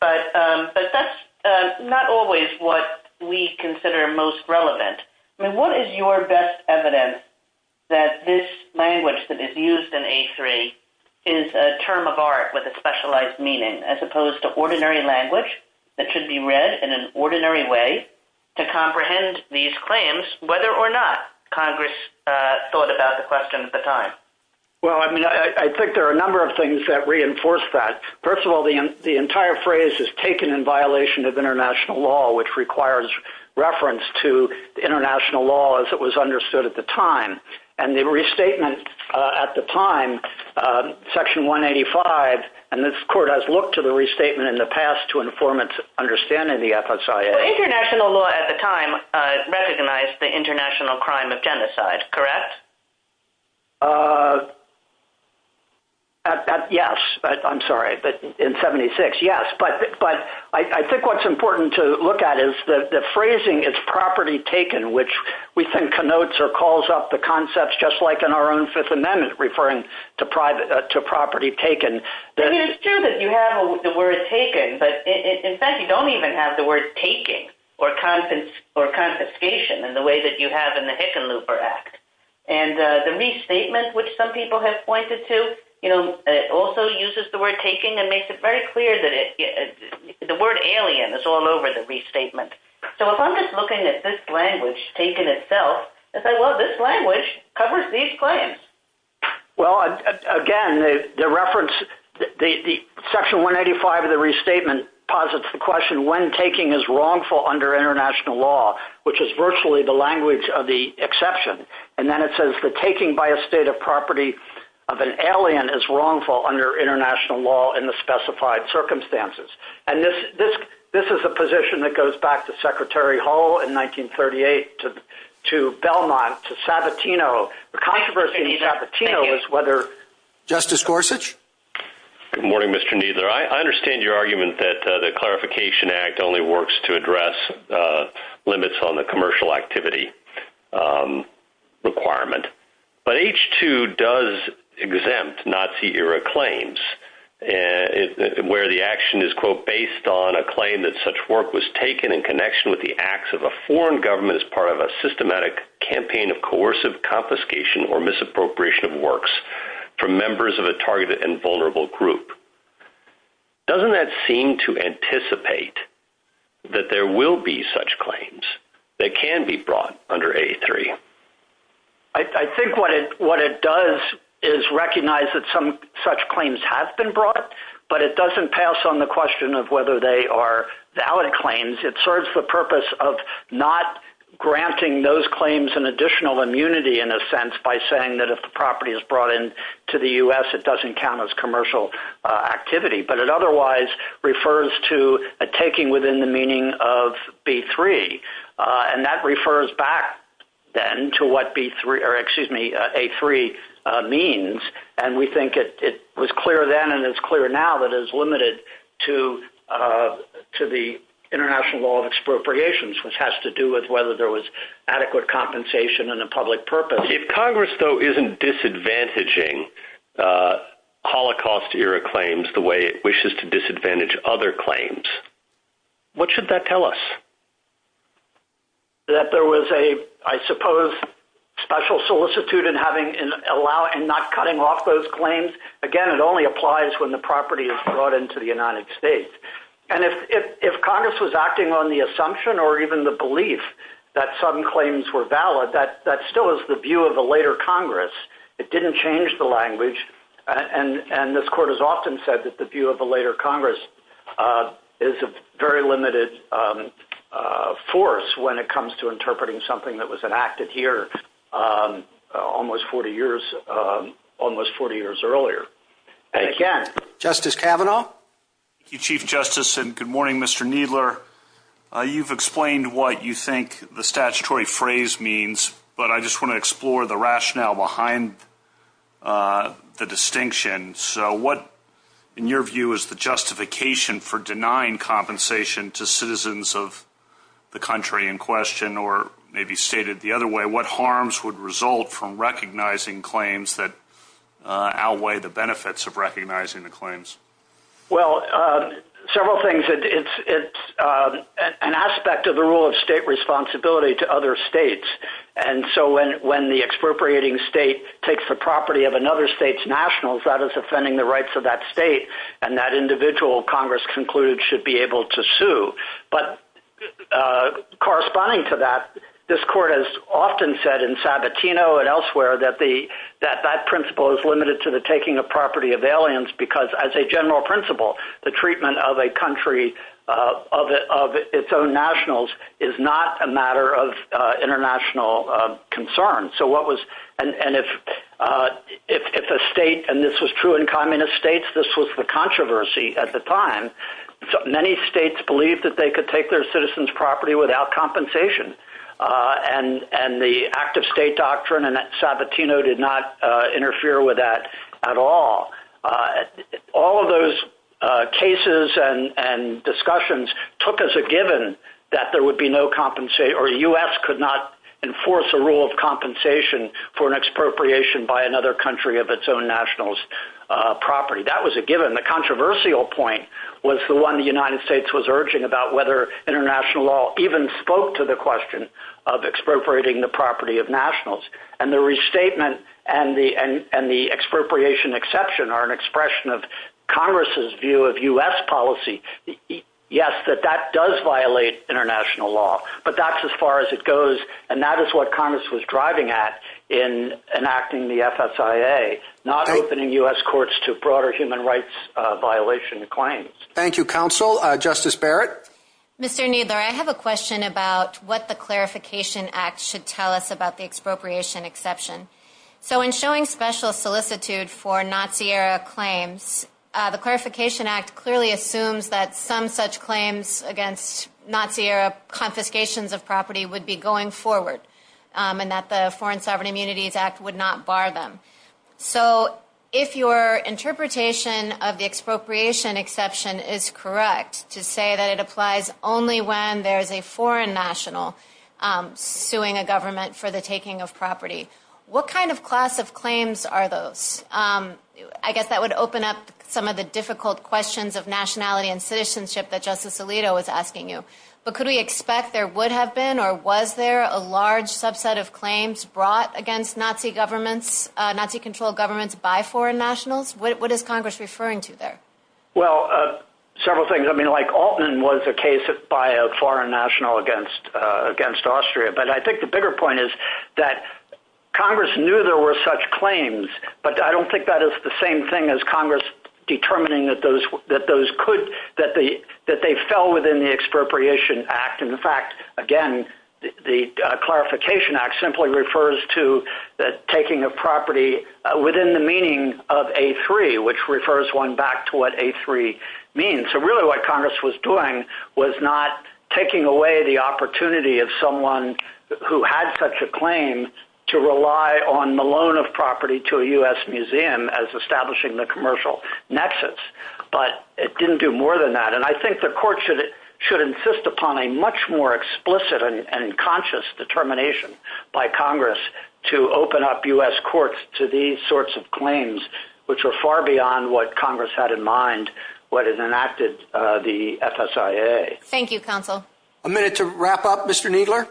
but that's not always what we consider most relevant. What is your best evidence that this language that is used in A3 is a term of art with a specialized meaning, as opposed to ordinary language that should be read in an ordinary way to comprehend these claims, whether or not Congress thought about the question at the time? Well, I mean, I think there are a number of things that reinforce that. First of all, the entire phrase is taken in violation of international law, which requires reference to the international law as it was understood at the time. The restatement at the time, Section 185, and this court has looked to the restatement in the past to inform its understanding of the FSIA. International law at the time recognized the international crime of genocide, correct? Yes. I'm sorry. But in 76, yes. But I think what's important to look at is that the phrasing is property taken, which we think connotes or calls up the concepts just like in our own Fifth Amendment referring to property taken. It's true that you have the word taken, but in fact, you don't even have the word taking or confiscation in the way that you have in the Hickenlooper Act. And the restatement, which some people have pointed to, also uses the word taking and makes it very clear that the word alien is all over the restatement. So if I'm just looking at this language taken itself, I say, well, this language covers these the question when taking is wrongful under international law, which is virtually the language of the exception. And then it says that taking by a state of property of an alien is wrongful under international law and the specified circumstances. And this is a position that goes back to Secretary Hall in 1938 to Belmont, to Sabatino. The controversy in Sabatino is whether- Justice Gorsuch? Good morning, Mr. Kneedler. I understand your argument that the Clarification Act only works to address limits on the commercial activity requirement. But H-2 does exempt Nazi-era claims where the action is, quote, based on a claim that such work was taken in connection with the acts of a foreign government as part of a systematic campaign of coercive confiscation or misappropriation from members of a targeted and vulnerable group. Doesn't that seem to anticipate that there will be such claims that can be brought under A3? I think what it does is recognize that some such claims have been brought, but it doesn't pass on the question of whether they are valid claims. It serves the purpose of granting those claims an additional immunity, in a sense, by saying that if the property is brought in to the U.S., it doesn't count as commercial activity. But it otherwise refers to a taking within the meaning of B3. And that refers back then to what A3 means. And we think it was clear now that it is limited to the international law of expropriations, which has to do with whether there was adequate compensation and a public purpose. If Congress, though, isn't disadvantaging Holocaust-era claims the way it wishes to disadvantage other claims, what should that tell us? That there was a, I suppose, special solicitude in not cutting off those claims. Again, it only applies when the property is brought in to the United States. And if Congress was acting on the assumption or even the belief that some claims were valid, that still is the view of a later Congress. It didn't change the language. And this Court has often said that the view of a later Congress is a very limited force when it comes to interpreting something that was enacted here almost 40 years earlier. Again, Justice Kavanaugh? Thank you, Chief Justice. And good morning, Mr. Kneedler. You've explained what you think the statutory phrase means, but I just want to explore the rationale behind the distinction. So what, in your view, is the justification for denying compensation to citizens of the country in question? Or maybe stated the other way, what harms would result from recognizing claims that outweigh the benefits of recognizing the claims? Well, several things. It's an aspect of the rule of state responsibility to other states. And so when the expropriating state takes the property of another state's nationals, that is offending the rights of that state. And that individual, Congress concluded, should be able to sue. But corresponding to that, this Court has often said in Sabatino and elsewhere that that principle is limited to the taking the property of aliens because, as a general principle, the treatment of a country, of its own nationals, is not a matter of international concern. So what was, and if a state, and this was true in communist states, this was the controversy at the time, many states believed that they could take their citizens' property without compensation. And the act of state doctrine in Sabatino did not interfere with that at all. All of those cases and discussions took as a given that there would be no compensation, or the U.S. could not enforce a rule of compensation for an expropriation by another country of its own nationals' property. That was a given. The controversial point was the one the United States was urging about whether international law even spoke to the question of expropriating the property of nationals. And the restatement and the expropriation exception are an expression of Congress's view of U.S. policy. Yes, that that does violate international law, but that's as far as it goes. And that is what Congress was driving at in enacting the FSIA, not opening U.S. courts to broader human rights violation claims. Thank you, counsel. Justice Barrett? Mr. Kneedler, I have a question about what the Clarification Act should tell us about the expropriation exception. So in showing special solicitude for Nazi-era claims, the Clarification Act clearly assumes that some such claims against Nazi-era confiscations of property would be going forward, and that the Foreign Sovereign Immunities Act would not bar them. So if your interpretation of the expropriation exception is correct to say that it applies only when there's a foreign national suing a government for the taking of property, what kind of class of claims are those? I guess that would open up some of the difficult questions of nationality and citizenship that Justice Alito was asking you. But could we expect there would have been or was there a large subset of claims brought against Nazi governments, Nazi-controlled governments by foreign nationals? What is Congress referring to there? Well, several things. I mean, like Altman was a case by a foreign national against Austria. But I think the bigger point is that Congress knew there were such claims, but I don't think that is the same thing as Congress determining that they fell within the Expropriation Act. In fact, again, the Clarification Act simply refers to the taking of property within the meaning of A3, which refers one back to what A3 means. So really what Congress was doing was not taking away the opportunity of someone who had such a claim to rely on Malone of property to a U.S. museum as establishing the commercial nexus. But it didn't do more than that. And I think the court should insist upon a much more explicit and conscious determination by Congress to open up U.S. courts to these sorts of claims, which are far beyond what Congress had in mind when it enacted the FSIA. Thank you, counsel. A minute to wrap up, Mr. Kneedler.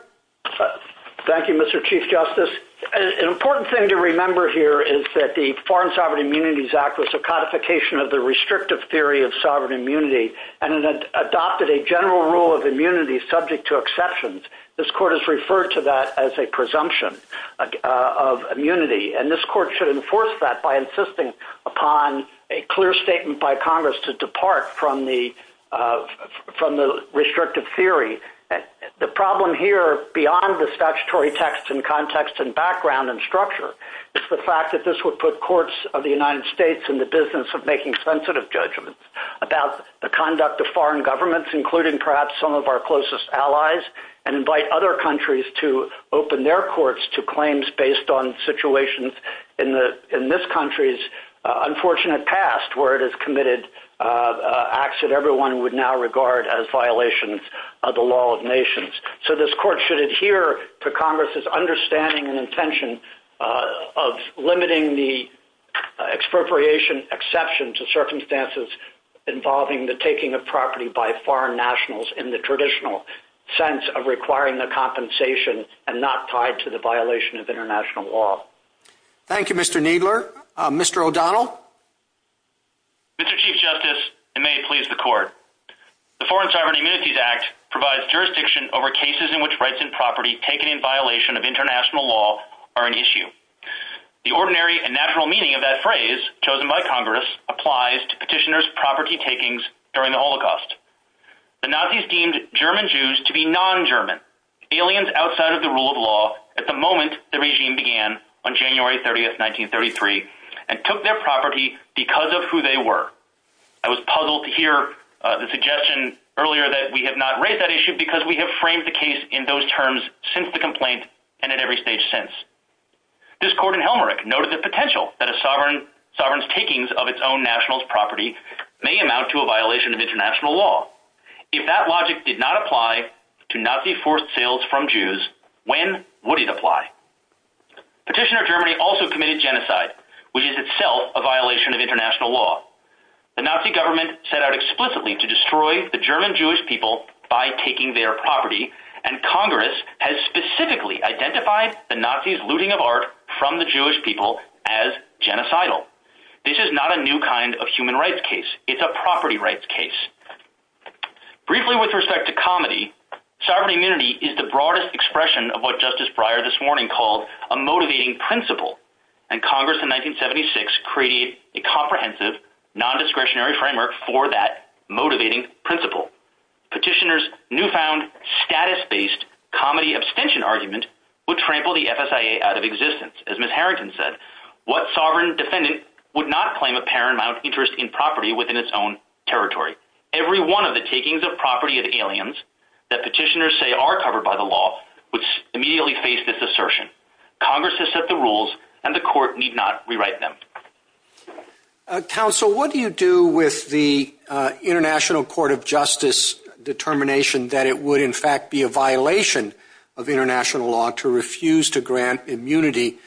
Thank you, Mr. Chief Justice. An important thing to remember here is that the Foreign Sovereign Immunities Act was a codification of the restrictive theory of sovereign immunity, and it adopted a general rule of immunity subject to exceptions. This court has referred to that as a presumption of immunity, and this court should enforce that by insisting upon a clear statement by Congress to depart from the restrictive theory. The problem here, beyond the statutory text and context and background and structure, is the fact that this would put courts of the United States in the business of making sensitive judgments about the conduct of foreign governments, including perhaps some of our closest allies, and invite other countries to open their courts to acts that everyone would now regard as violations of the law of nations. So this court should adhere to Congress's understanding and intention of limiting the expropriation exception to circumstances involving the taking of property by foreign nationals in the traditional sense of requiring the compensation and not tied to the violation of international law. Thank you, Mr. Kneedler. Mr. O'Donnell? Mr. Chief Justice, and may it please the court, the Foreign Sovereign Immunities Act provides jurisdiction over cases in which rights and property taken in violation of international law are an issue. The ordinary and natural meaning of that phrase, chosen by Congress, applies to petitioners' property takings during the Holocaust. The Nazis deemed German Jews to be non-German, aliens outside of the rule of law, at the moment the regime began on January 30th, 1933, and took their property because of who they were. I was puzzled to hear the suggestion earlier that we have not raised that issue because we have framed the case in those terms since the complaint and at every stage since. This court in Helmerich noted the potential that a sovereign's takings of its own national property may amount to a violation of international law. If that logic did not apply to Nazi forced sales from Jews, when would it apply? Petitioner Germany also committed genocide, which is itself a violation of international law. The Nazi government set out explicitly to destroy the German Jewish people by taking their property, and Congress has specifically identified the Nazis' looting of art from the Jewish people as genocidal. This is not a new kind of human rights case. It's a property rights case. Briefly with respect to comedy, sovereign immunity is the broadest expression of what Justice Breyer this morning called a motivating principle, and Congress in 1976 created a comprehensive non-discretionary framework for that motivating principle. Petitioner's newfound status-based comedy abstention argument would trample the FSIA out of existence. As Ms. Harrington said, what sovereign defendant would not claim a paramount interest in property within its own territory. Every one of the takings of property of aliens that petitioners say are covered by the law would immediately face this assertion. Congress has set the rules, and the court need not rewrite them. Counsel, what do you do with the International Court of Justice's determination that it would in fact be a violation of international law to refuse to grant immunity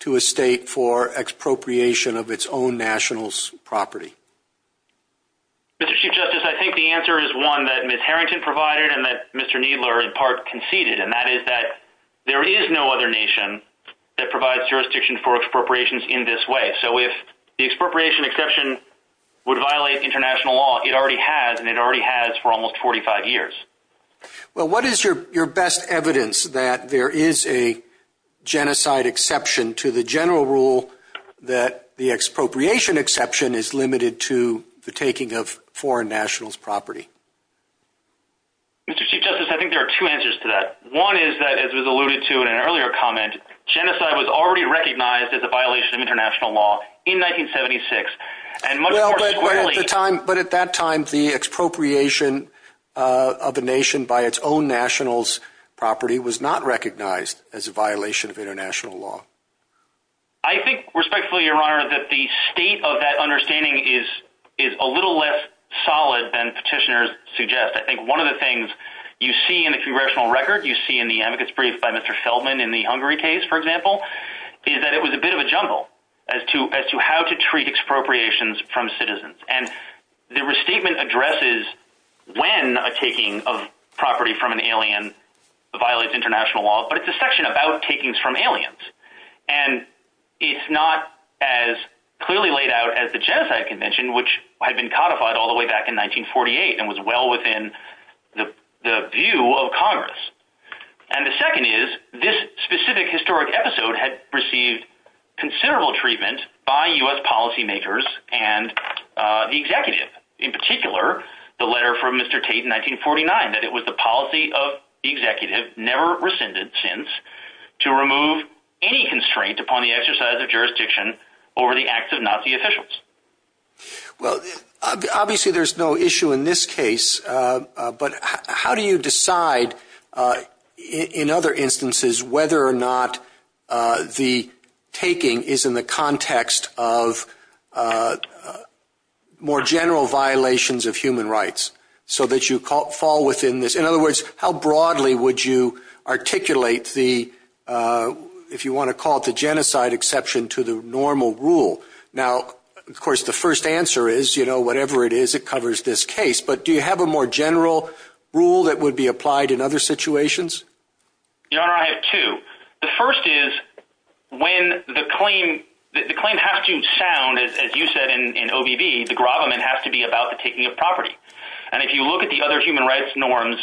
to a state for expropriation of its own national property? Mr. Chief Justice, I think the answer is one that Ms. Harrington provided and that Mr. Kneedler in part conceded, and that is that there is no other nation that provides jurisdiction for expropriations in this way. So if the expropriation exception would violate international law, it already has, and it already has for almost 45 years. Well, what is your best evidence that there is a genocide exception to the general rule that the expropriation exception is limited to the taking of foreign nationals' property? Mr. Chief Justice, I think there are two answers to that. One is that, as was alluded to in an earlier comment, genocide was already recognized as a violation of international law in 1976. But at that time, the expropriation of a nation by its own nationals' property was not recognized as a violation of international law. I think respectfully, Your Honor, that the state of that understanding is a little less solid than petitioners suggest. I think one of the things you see in the congressional record, you see in the advocates brief by Mr. Feldman in the Hungary case, for example, is that it was a bit of a jungle as to how to treat expropriations from citizens. And the restatement addresses when a taking of property from an alien violates international law, but it's a section about takings from aliens. And it's not as clearly laid out as the Genocide Convention, which had been codified all the way back in 1948 and was well within the view of Congress. And the second is, this specific historic episode had received considerable treatment by U.S. policymakers and the executive, in particular, the letter from Mr. Sims, to remove any constraint upon the exercise of jurisdiction over the acts of Nazi officials. Well, obviously, there's no issue in this case. But how do you decide, in other instances, whether or not the taking is in the context of more general violations of human rights, so that you fall within this? In other words, how broadly would you articulate the, if you want to call it the genocide exception to the normal rule? Now, of course, the first answer is, you know, whatever it is, it covers this case. But do you have a more general rule that would be applied in other situations? Your Honor, I have two. The first is, when the claim has to sound, as you said, in OBV, the grobbing has to be about the taking of property. And if you look at the other human rights norms,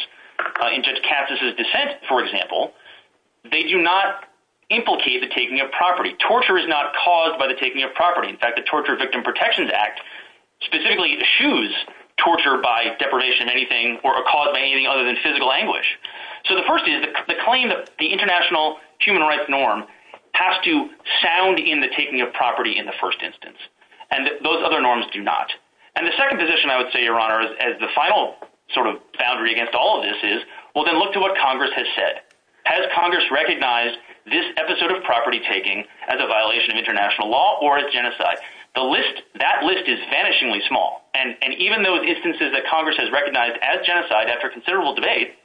in Judge Cassis's dissent, for example, they do not implicate the taking of property. Torture is not caused by the taking of property. In fact, the Torture Victim Protections Act specifically eschews torture by deprivation of anything or a cause of anything other than physical anguish. So the first is, the claim of the international human rights norm has to sound in the taking of property in the first instance. And those other norms do not. And the second position I would say, Your Honor, as the final sort of boundary against all of this is, well, then look to what Congress has said. Has Congress recognized this episode of property taking as a violation of international law or a genocide? The list, that list is vanishingly small. And even those instances that Congress has recognized as genocide after considerable debate,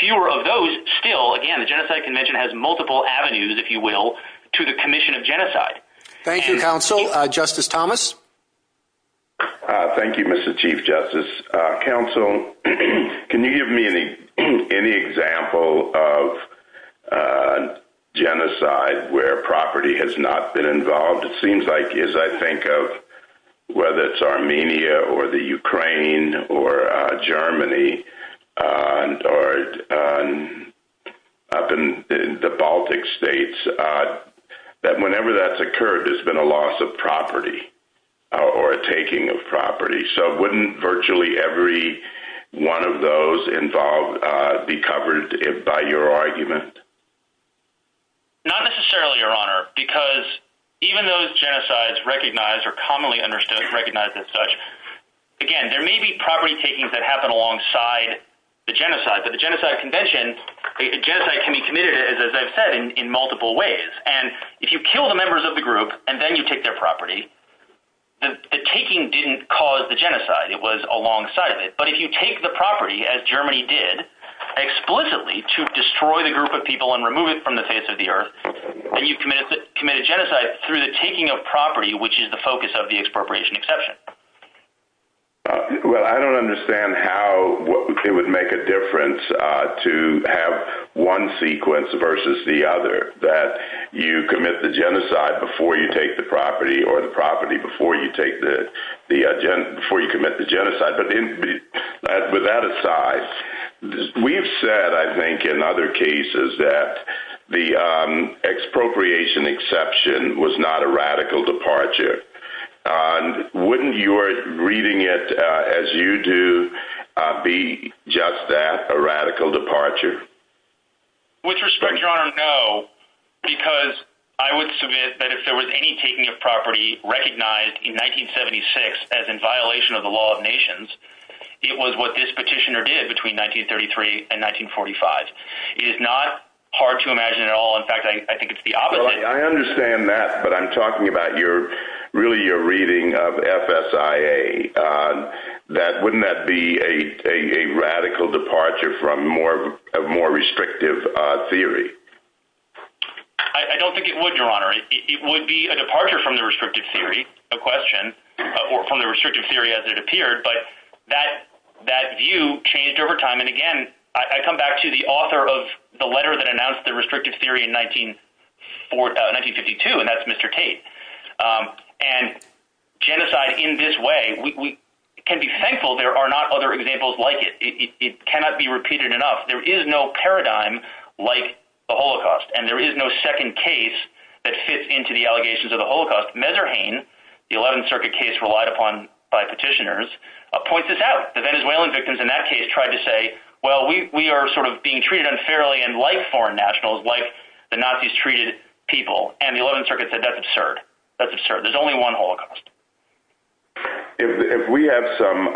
fewer of those still, again, the Genocide Convention has multiple avenues, if you will, to the commission of genocide. Thank you, counsel. Justice Thomas? Thank you, Mr. Chief Justice. Counsel, can you give me any example of genocide where property has not been involved? It seems like it is. I think of whether it's Armenia, or the Ukraine, or Germany, or up in the Baltic states, that whenever that's occurred, there's been a loss of property, or a taking of property. So wouldn't virtually every one of those involved be covered by your argument? Not necessarily, Your Honor, because even those genocides recognized or commonly understood, recognized as such, again, there may be property takings that happen alongside the genocide, but the Genocide Convention, a genocide can be committed, as I've said, in multiple ways. And if you kill the members of the group, and then you take their property, the taking didn't cause the genocide, it was alongside it. But if you take the property, as Germany did, explicitly to destroy the group of people and remove it from the face of the earth, you commit a genocide through the taking of property, which is the focus of the expropriation exception. Well, I don't understand how, what would make a difference to have one sequence versus the other, that you commit the genocide before you take the property, or the property before you take the before you commit the genocide. But with that aside, we've said, I think, in other cases that the expropriation exception was not a radical departure. And wouldn't you are reading it, as you do, be just that a radical departure? With respect, Your Honor, no, because I would admit that if there was any taking of property recognized in 1976, as in violation of the law of nations, it was what this petitioner did between 1933 and 1945. It is not hard to imagine at all. In fact, I think it's the opposite. I understand that. But I'm talking about your, really, your reading of FSIA. That wouldn't that be a radical departure from more of more restrictive theory? I don't think it would, Your Honor, it would be a departure from the restrictive theory of question, or from the restrictive theory as it appeared. But that, that view changed over time. And again, I come back to the author of the letter that announced the restrictive theory in 1954, 1952. And that's Mr. Tate. And genocide in this way, we can be thankful there are not other examples like it. It cannot be repeated enough. There is no paradigm like the Holocaust. And there is no second case that fits into the allegations of the Holocaust. Messerhain, the 11th Circuit case relied upon by petitioners, points this out. The Venezuelan victims in that case tried to say, well, we are sort of being treated unfairly and like foreign nationals, like the Nazis treated people. And the 11th Circuit said, that's absurd. That's absurd. There's only one Holocaust. If we have some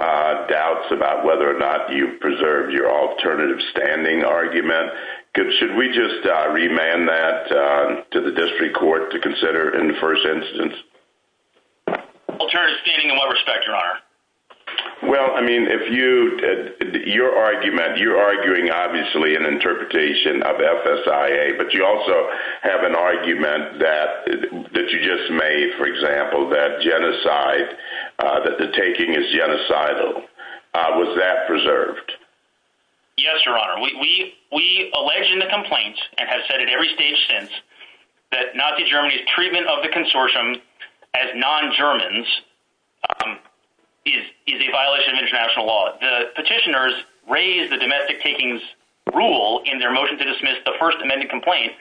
doubts about whether or not you preserved your alternative standing argument, should we just remand that to the district court to consider in the first instance? Alternative standing in what respect, Your Honor? Well, I mean, if you, your argument, you're arguing obviously an interpretation of FSIA, but you also have an argument that, that you just made, for example, that genocide, that the taking is genocidal. Was that preserved? Yes, Your Honor. We, we, we allege in the complaints and have said at every stage since that Nazi Germany's treatment of the consortium as non-Germans is a violation of international law. The petitioners raised the domestic takings rule in their motion to dismiss the first amendment complaint.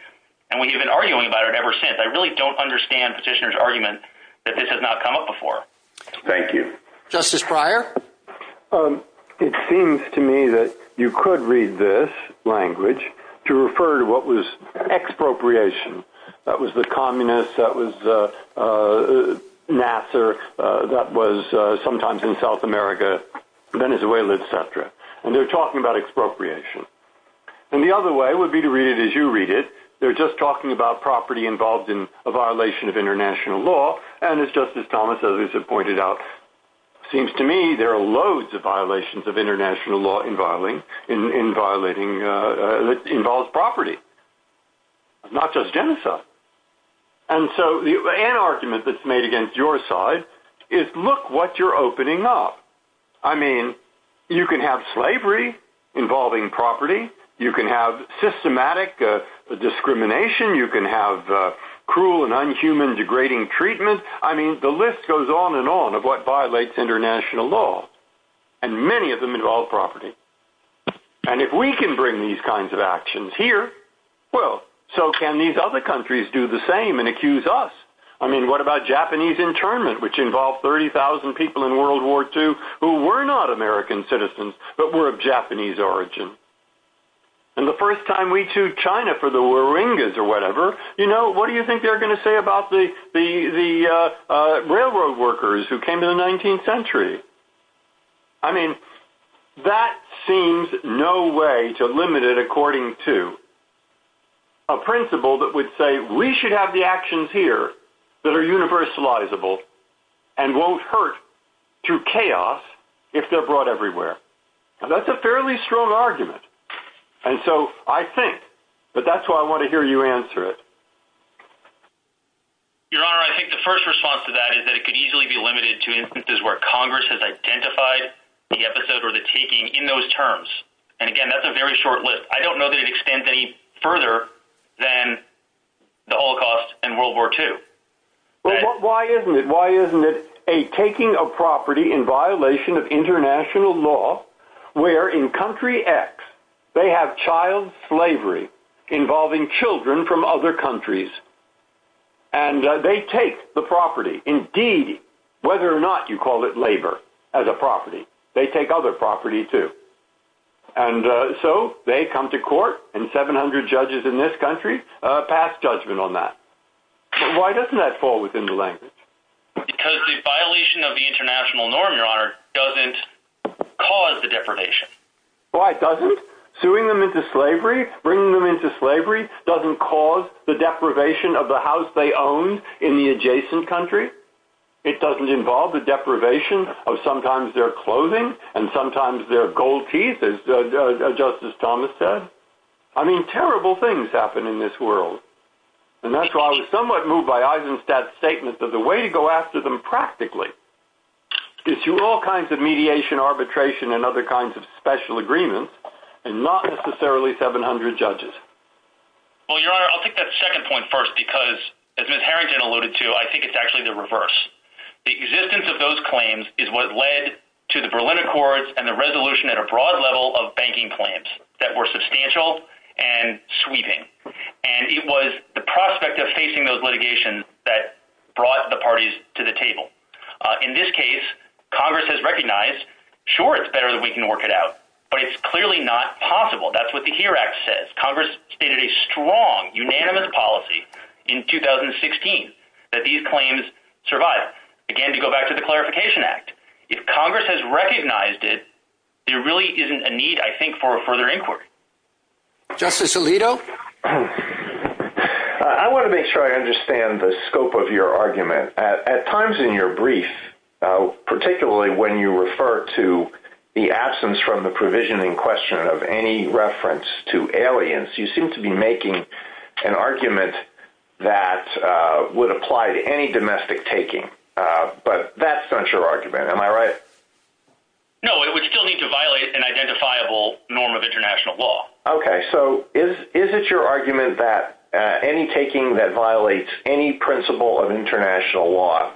And when you've been arguing about it ever since, I really don't understand petitioner's argument that this has not come up before. Thank you. Justice Breyer. It seems to me that you could read this language to refer to what was expropriation. That was the communists. That was Nasser. That was sometimes in South America, Venezuela, et cetera. And they're talking about expropriation. And the other way would be to read it as you read it. They're just talking about property involved in a violation of international law. And it's just as Thomas others have pointed out. It seems to me there are loads of violations of international law involving, in, in violating, uh, uh, that involves property, not just genocide. And so an argument that's made against your side is look what you're opening up. I mean, you can have slavery involving property. You can have systematic, uh, discrimination. You can have, uh, cruel and I'm human degrading treatment. I mean, the list goes on and on of what violates international law and many of them involve property. And if we can bring these kinds of actions here, well, so can these other countries do the same and accuse us? I mean, what about Japanese internment, which involved 30,000 people in world war two who were not American citizens, but were of Japanese origin. And the first time we choose China for the Warringahs or whatever, you know, what do you think they're going to say about the, the, the, uh, uh, railroad workers who came to the 19th century? I mean, that seems no way to limit it. According to a principle that would say we should have the actions here that are universalizable and won't hurt to chaos if they're brought everywhere. And that's a fairly strong argument. And so I think, but that's why I want to hear you answer it. Your honor. I think the first response to that is that it could easily be limited to instances where Congress has identified the episode or the in those terms. And again, that's a very short list. I don't know that it extends any further than the Holocaust and world war two. Why isn't it, why isn't it a taking a property in violation of international law where in country X, they have child slavery involving children from other countries and they take the property in D whether or not you call it labor as a property, they take other property too. And so they come to court and 700 judges in this country, uh, passed judgment on that. Why doesn't that fall within the language? Because the violation of the international norm, your honor, doesn't cause the defamation. Why doesn't suing them into slavery, bringing them into slavery doesn't cause the deprivation of the house they own in the adjacent country. It doesn't involve the deprivation of sometimes their clothing and sometimes their gold teeth, as justice Thomas said. I mean, terrible things happen in this world. And that's why I was somewhat moved by that statement, but the way to go after them practically is to all kinds of mediation, arbitration, and other kinds of special agreements and not necessarily 700 judges. Well, your honor, I'll take that second point first, because as Mr. Harrington alluded to, I think it's actually the reverse. The existence of those claims is what led to the Berlin Accords and the resolution at a broad level of banking plans that were substantial and sweeping. And it was the prospect of facing those litigations that brought the parties to the table. In this case, Congress has recognized, sure, it's better that we can work it out, but it's clearly not possible. That's what the HERE Act says. Congress stated a strong, unanimous policy in 2016 that these claims survive. Again, to go back to the Clarification Act, if Congress has recognized it, there really isn't a need, I think, for a further inquiry. Justice Alito? I want to make sure I understand the scope of your argument. At times in your brief, particularly when you refer to the absence from the provision in question of any reference to aliens, you seem to be making an argument that would apply to any domestic taking, but that's not your argument. Am I right? No, we still need to violate an identifiable norm of international law. Okay. So is it your argument that any taking that violates any principle of international law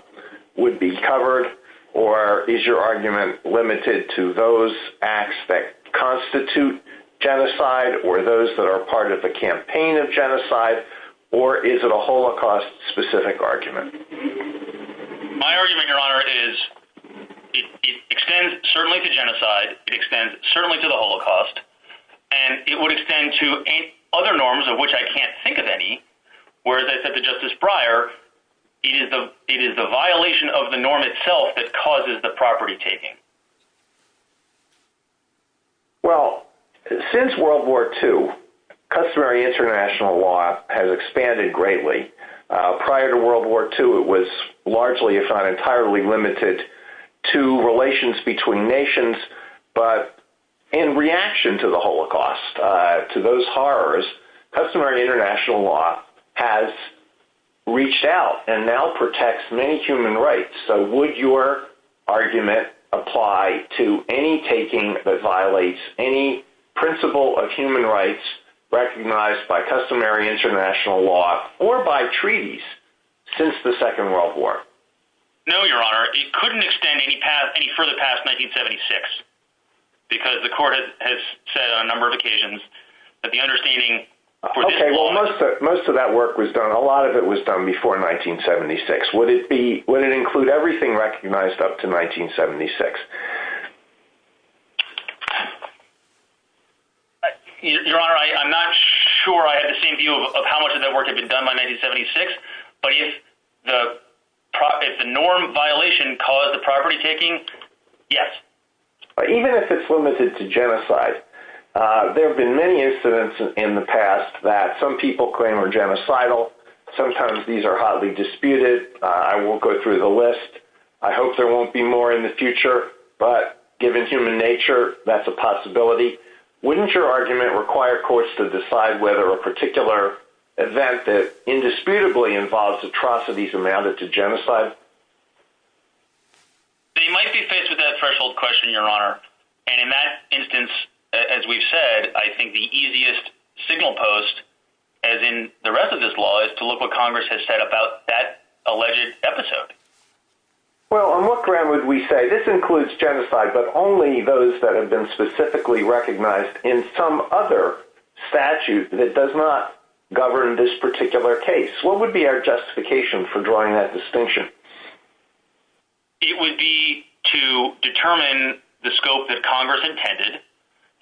would be covered, or is your argument limited to those acts that constitute genocide or those that are part of the campaign of genocide, or is it a Holocaust-specific argument? My argument, Your Honor, is it extends certainly to genocide, it extends certainly to the Holocaust, and it would extend to other norms of which I can't think of any, whereas I said to Justice Breyer, it is the violation of the norm itself that causes the property taking. Well, since World War II, customary international law has expanded greatly. Prior to World War II, it was largely, if not entirely, limited to relations between nations, but in reaction to the Holocaust, to those horrors, customary international law has reached out and now protects many human rights. So would your argument apply to any taking that violates any principle of human rights recognized by customary international law or by treaties since the number of occasions that the understanding... Okay, well, most of that work was done. A lot of it was done before 1976. Would it include everything recognized up to 1976? Your Honor, I'm not sure I have the same view of how much of that work had been done by 1976, but if the norm violation caused the property taking, yes. Even if it's limited to genocide, there have been many incidents in the past that some people claim are genocidal. Sometimes these are hotly disputed. I won't go through the list. I hope there won't be more in the future, but given human nature, that's a possibility. Wouldn't your argument require courts to decide whether a particular event that indisputably involves atrocities amounted to genocide? They might be faced with that threshold question, Your Honor, and in that instance, as we've said, I think the easiest signal post, as in the rest of this law, is to look what Congress has said about that alleged episode. Well, on what ground would we say this includes genocide, but only those that have been specifically recognized in some other statute that does not govern this particular case? What would be our justification for drawing that distinction? It would be to determine the scope that Congress intended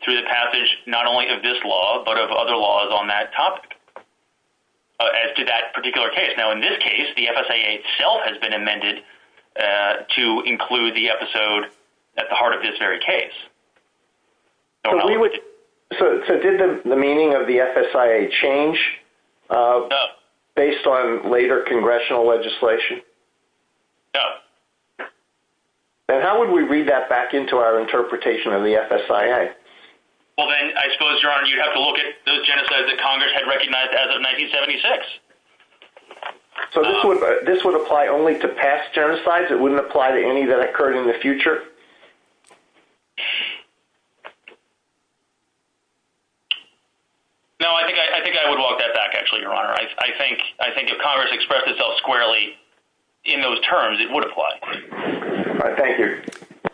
through the passage not only of this law, but of other laws on that topic as to that particular case. Now, in this case, the FSA itself has been amended to include the episode at the heart of this very case. So, didn't the meaning of the FSIA change based on later congressional legislation? No. And how would we read that back into our interpretation of the FSIA? Well, then, I suppose, Your Honor, you'd have to look at those genocides that Congress had recognized as of 1976. So, this would apply only to past genocides? It wouldn't apply to any that we're talking about today. No, I think I would walk that back, actually, Your Honor. I think if Congress expressed itself squarely in those terms, it would apply. Thank you.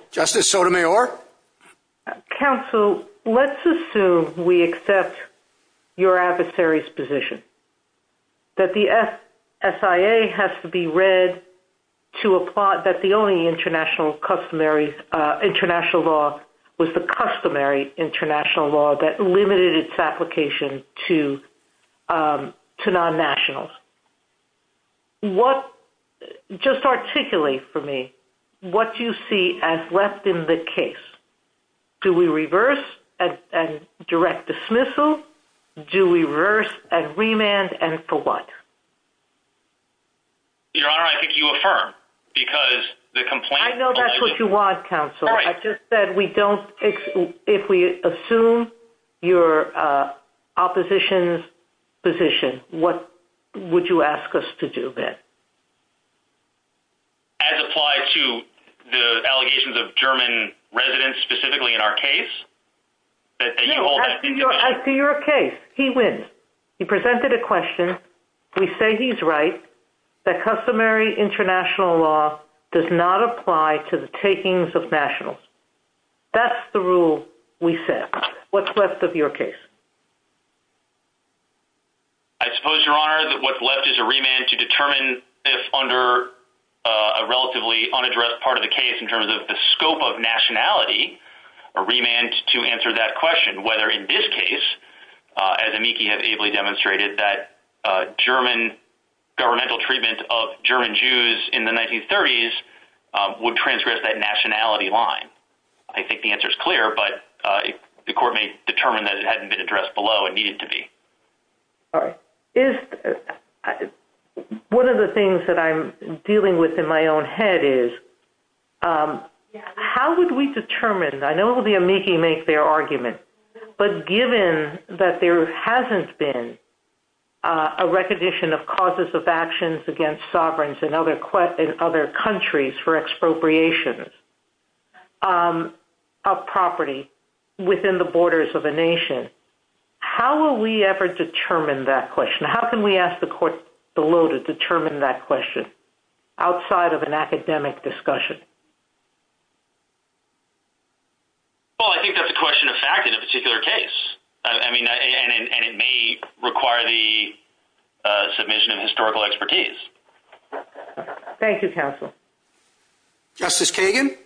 Justice Sotomayor? Counsel, let's assume we accept your adversary's position, that the FSIA has to be read to was the customary international law that limited its application to non-nationals. Just articulate for me, what do you see as left in the case? Do we reverse and direct dismissal? Do we reverse and remand, and for what? Your Honor, I think you affirm, because the we don't, if we assume your opposition's position, what would you ask us to do then? As applied to the allegations of German residents, specifically in our case? I see your case. He wins. He presented a question. We say he's right. The customary international law does not apply to the takings of nationals. That's the rule we set. What's left of your case? I suppose, Your Honor, that what's left is a remand to determine if under a relatively unaddressed part of the case, in terms of the scope of nationality, a remand to answer that question, whether in this case, as Amiki has ably demonstrated, that German governmental treatment of German Jews in the 1930s would transgress that nationality line. I think the answer is clear, but the court may determine that it hadn't been addressed below. It needed to be. One of the things that I'm dealing with in my own head is, how would we determine, I know it will be Amiki makes their argument, but given that there hasn't been a recognition of causes of actions against sovereigns in other countries for expropriation of property within the borders of a nation, how will we ever determine that question? How can we ask the court below to determine that question outside of an academic discussion? Well, I think that's a question of fact in a particular case. I mean, and it may require the submission of historical expertise. Thank you, counsel. Justice Kagan?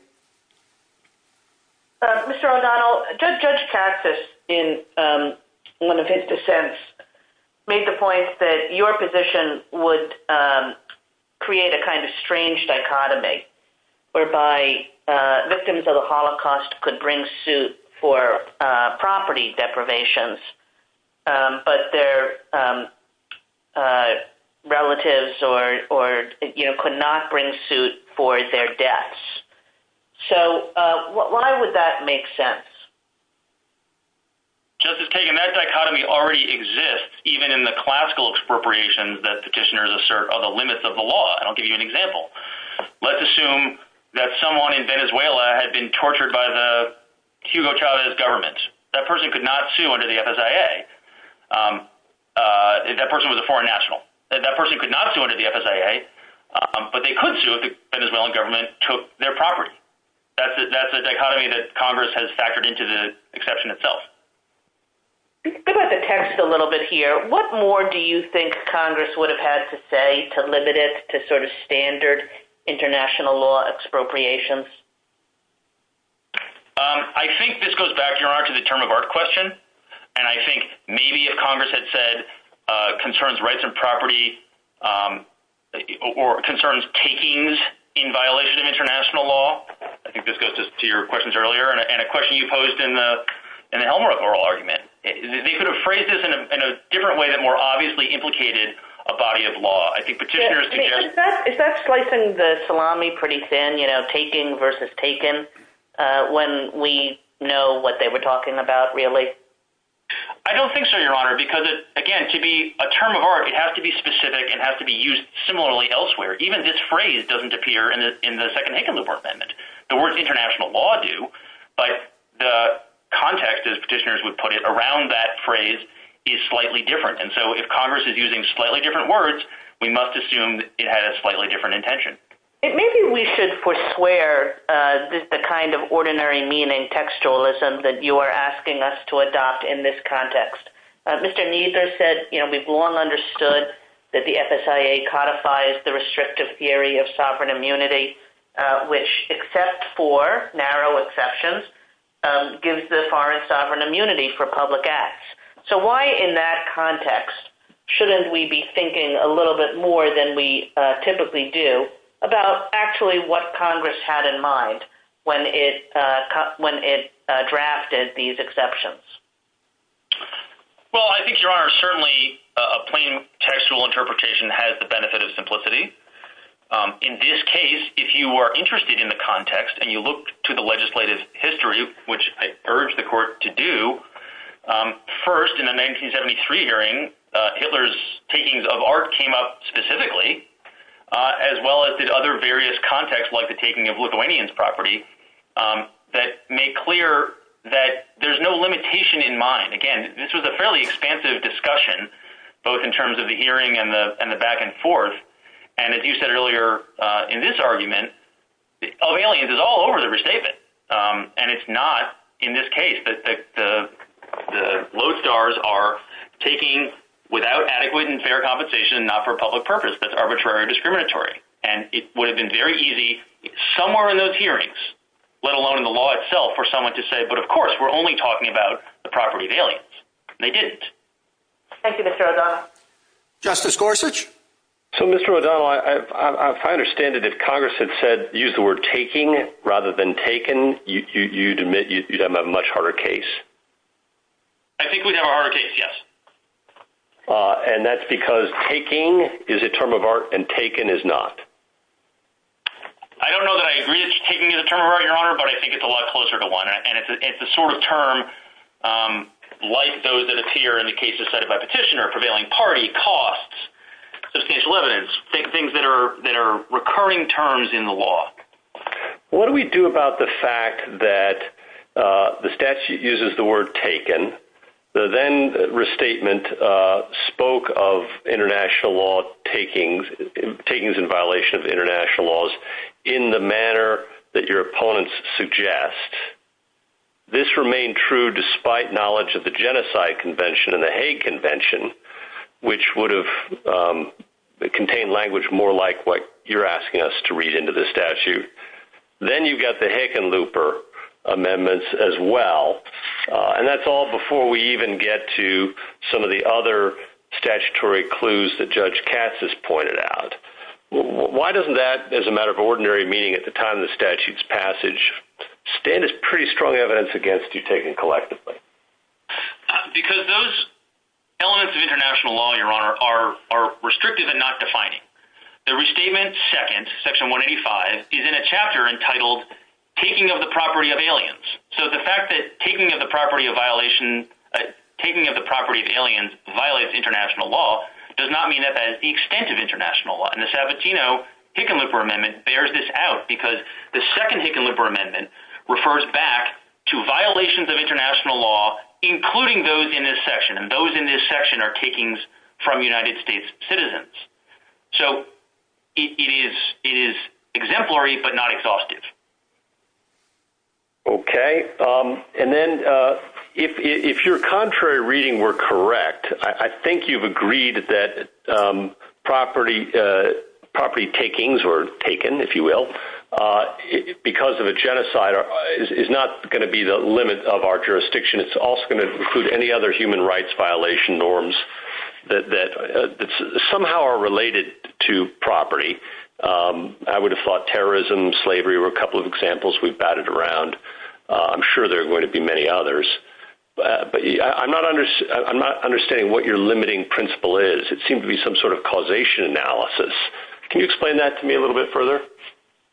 Mr. O'Donnell, Judge Cassis, in one of his dissents, made the point that your position would create a kind of strange dichotomy, whereby victims of the Holocaust could bring suit for property deprivations, but their relatives could not bring suit for their deaths. So why would that make sense? Justice Kagan, that dichotomy already exists, even in the classical expropriations that petitioners assert are the limits of the law. I'll give you an example. Let's assume that someone in Venezuela had been tortured by the Hugo Chavez government. That person could not sue under the FSIA. That person was a foreign national. That person could not sue under the FSIA, but they could sue if the Venezuelan government took their property. That's the dichotomy that Congress has factored into the exception itself. Let's go back to Texas a little bit here. What more do you think Congress would have had to say to limit it to sort of standard international law expropriations? I think this goes back, Your Honor, to the term of art question, and I think maybe if Congress had said concerns rights and property or concerns takings in violation of international law, I think this goes to your questions earlier, and a question you posed in the Elmhurst oral argument. They could have phrased this in a different way that more obviously implicated a body of law. I think petitioners— Is that slicing the salami pretty thin, you know, taking versus taken, when we know what they were talking about, really? I don't think so, Your Honor, because, again, to be a term of art, it has to be specific. It has to be used similarly elsewhere. Even this phrase doesn't appear in the second Higgins Amendment. The words international law do, but the context, as petitioners would put it, around that phrase is slightly different, and so if Congress is using slightly different words, we must assume it had a slightly different intention. Maybe we should forswear the kind of ordinary meaning textualism that you are asking us to adopt in this context. Mr. Kneether said we've long understood that the FSIA codifies the restrictive theory of sovereign immunity, which, except for narrow exceptions, gives the foreign sovereign immunity for public acts. So why, in that context, shouldn't we be thinking a little bit more than we typically do about actually what Congress had in mind when it drafted these exceptions? Well, I think, Your Honor, certainly a plain textual interpretation has the benefit of simplicity. In this case, if you are interested in the context and you look to the legislative history, which I urge the Court to do, first, in the 1973 hearing, Hitler's takings of art came up that made clear that there's no limitation in mind. Again, this was a fairly expansive discussion, both in terms of the hearing and the back-and-forth, and as you said earlier in this argument, O'Neill is all over the restatement, and it's not in this case that the low stars are taking, without adequate and fair compensation, not for public purpose, but arbitrary and discriminatory, and it would have been very easy somewhere in those hearings, let alone in the law itself, for someone to say, but of course, we're only talking about the property of aliens. They didn't. Thank you, Mr. O'Donnell. Justice Gorsuch? So, Mr. O'Donnell, if I understand it, if Congress had said, used the word taking rather than taken, you'd admit you'd have a much harder case? I think we'd have a harder case, yes. And that's because taking is a term of art, and taken is not? I don't know that I agree that taking is a term of art, Your Honor, but I think it's a lot closer to one, and it's the sort of term, like those that appear in the cases cited by Petitioner, prevailing party, costs, just in case of evidence, things that are recurring terms in the law. What do we do about the fact that the statute uses the word taken? The then restatement spoke of international law takings, takings in violation of international laws, in the manner that your opponents suggest. This remained true despite knowledge of the Genocide Convention and the Hague Convention, which would have contained language more like you're asking us to read into this statute. Then you've got the Hickenlooper Amendments as well, and that's all before we even get to some of the other statutory clues that Judge Katz has pointed out. Why doesn't that, as a matter of ordinary meeting at the time of the statute's passage, stand as pretty strong evidence against you taking collectively? Because those elements of international law, Your Honor, are restrictive and not defining. The restatement second, Section 185, is in a chapter entitled, Taking of the Property of Aliens. The fact that taking of the property of aliens violates international law does not mean that that is the extent of international law. The Sabatino-Hickenlooper Amendment bears this out because the second Hickenlooper Amendment refers back to violations of international law, including those in this section, and those in this section are takings from United States citizens. So it is exemplary, but not exhaustive. Okay. And then if your contrary reading were correct, I think you've agreed that property takings were taken, if you will, because of a genocide is not going to be the limit of our jurisdiction. It's also going to include any other human rights violation norms that somehow related to property. I would have thought terrorism, slavery were a couple of examples we've batted around. I'm sure there are going to be many others, but I'm not understanding what your limiting principle is. It seemed to be some sort of causation analysis. Can you explain that to me a little bit further?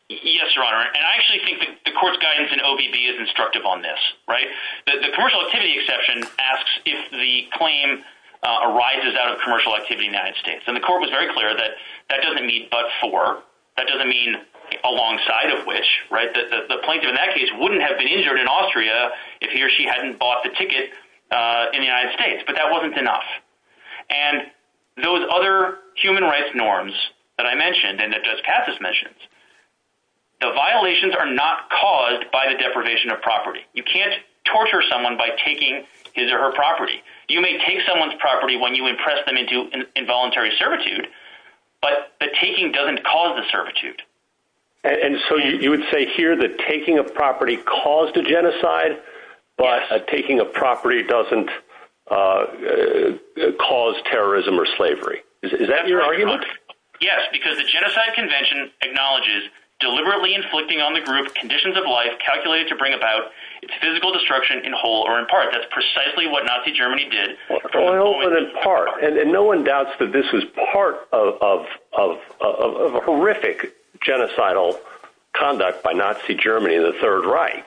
Yes, Your Honor. And I actually think that the court's guidance in OBB is instructive on this, right? The commercial activity exception asks if the claim arises out of commercial activity in United States. And the court was very clear that that doesn't mean but for, that doesn't mean alongside of which, right? The plaintiff in that case wouldn't have been injured in Austria if he or she hadn't bought the ticket in the United States, but that wasn't enough. And those other human rights norms that I mentioned, and that just passes mentioned, the violations are not caused by the deprivation of property. You can't torture someone by taking his or her property. You may take someone's property when you impress them into involuntary servitude, but the taking doesn't cause the servitude. And so you would say here that taking a property caused a genocide, but taking a property doesn't cause terrorism or slavery. Is that your argument? Yes, because the genocide convention acknowledges deliberately inflicting on the group conditions of life calculated to bring about physical destruction in whole or in part. That's precisely what Nazi Germany did. And no one doubts that this was part of a horrific genocidal conduct by Nazi Germany in the Third Reich.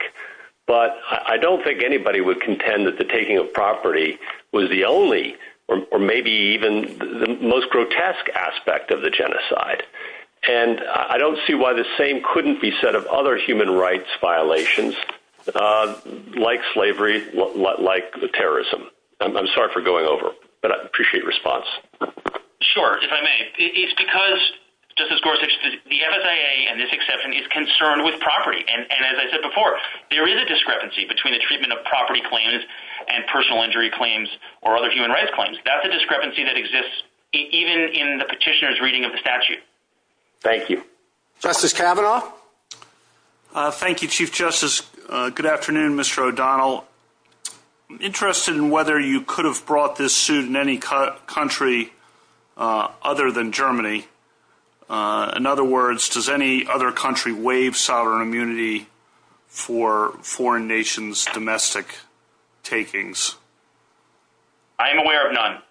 But I don't think anybody would contend that the taking of property was the only, or maybe even the most grotesque aspect of the genocide. And I don't see why the same couldn't be said of other human rights violations, like slavery, like terrorism. I'm sorry for going over, but I appreciate your response. Sure, if I may. It's because, Justice Gorsuch, the MSAA and this exception is concerned with property. And as I said before, there is a discrepancy between the treatment of property claims and personal injury claims or other human rights claims. That's a discrepancy that exists even in the petitioner's reading of the statute. Thank you. Justice Kavanaugh. Thank you, Chief Justice. Good afternoon, Mr. O'Donnell. I'm interested in whether you could have brought this suit in any country other than Germany. In other words, does any other country waive sovereign immunity for foreign nations' domestic takings? I am aware of none. None.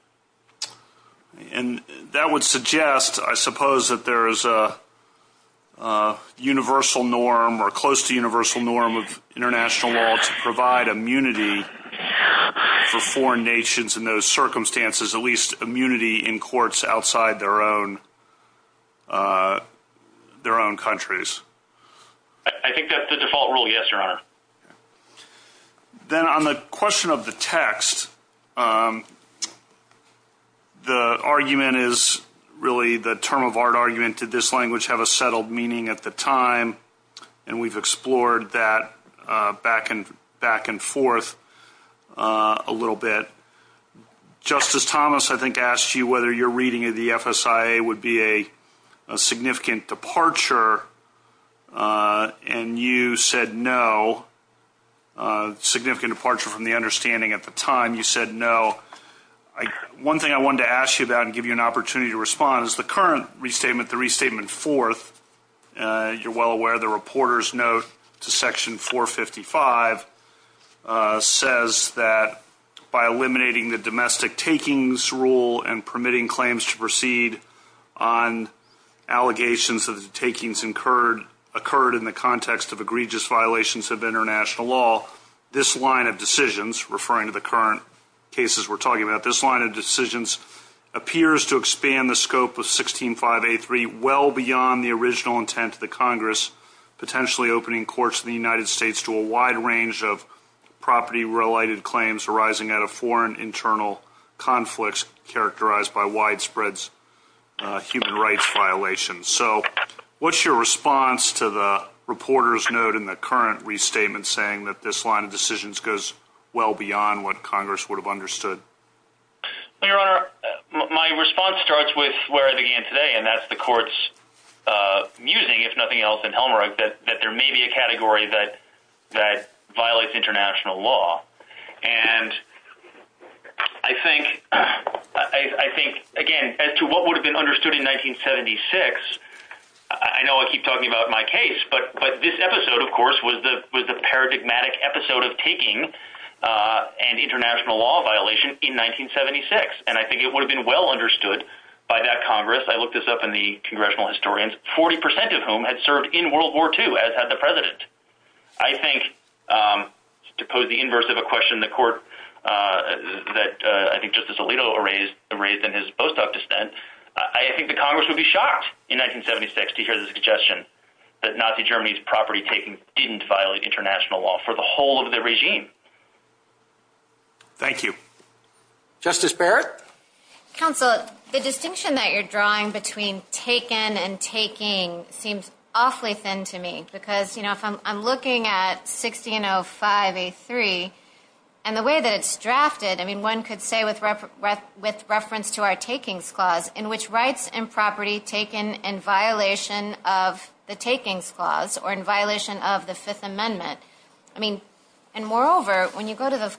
And that would suggest, I suppose, that there is a universal norm or close to universal norm of international law to provide immunity for foreign nations in those circumstances, at least immunity in courts outside their own countries. I think that's the default rule, yes, Your Honor. Then on the question of the text, the argument is really the term of art argument. Did this language have a settled meaning at the time? And we've explored that back and forth a little bit. Justice Thomas, I think, asked you whether your reading of the FSIA would be a significant departure. And you said no, a significant departure from the understanding at the time. You said no. One thing I wanted to ask you about and give you an opportunity to respond is the current restatement, the Restatement Fourth, you're well aware the reporter's note to Section 455 says that by eliminating the domestic takings rule and permitting claims to proceed on allegations of the takings occurred in the context of egregious violations of international law, this line of decisions, referring to the current cases we're talking about, this line of decisions appears to expand the scope of 16583 well beyond the original intent of the Congress, potentially opening courts in the United States to a wide range of property-related claims arising out of foreign internal conflicts characterized by widespread human rights violations. So what's your response to the reporter's note in the current restatement saying that this line of decisions goes well beyond what Congress would have understood? Your Honor, my response starts with where I began today, and that's the court's musing, if nothing else, in Helmreich that there may be a category that violates international law. And I think, again, as to what would have been understood in 1976, I know I keep talking about my case, but this episode, of course, was the paradigmatic episode of taking an international law violation in 1976, and I think it would have been well understood by that Congress. I looked this up in the president. I think, to pose the inverse of a question the court that I think Justice Alito raised in his post-op dissent, I think the Congress would be shocked in 1976 to hear the suggestion that Nazi Germany's property taking didn't violate international law for the whole of the regime. Thank you. Justice Barrett? Counsel, the distinction that you're drawing between taken and taking seems awfully thin to me, because I'm looking at 1605A3, and the way that it's drafted, I mean, one could say with reference to our takings clause, in which rights and property taken in violation of the takings clause, or in violation of the Fifth Amendment, I mean, and moreover, when you go to the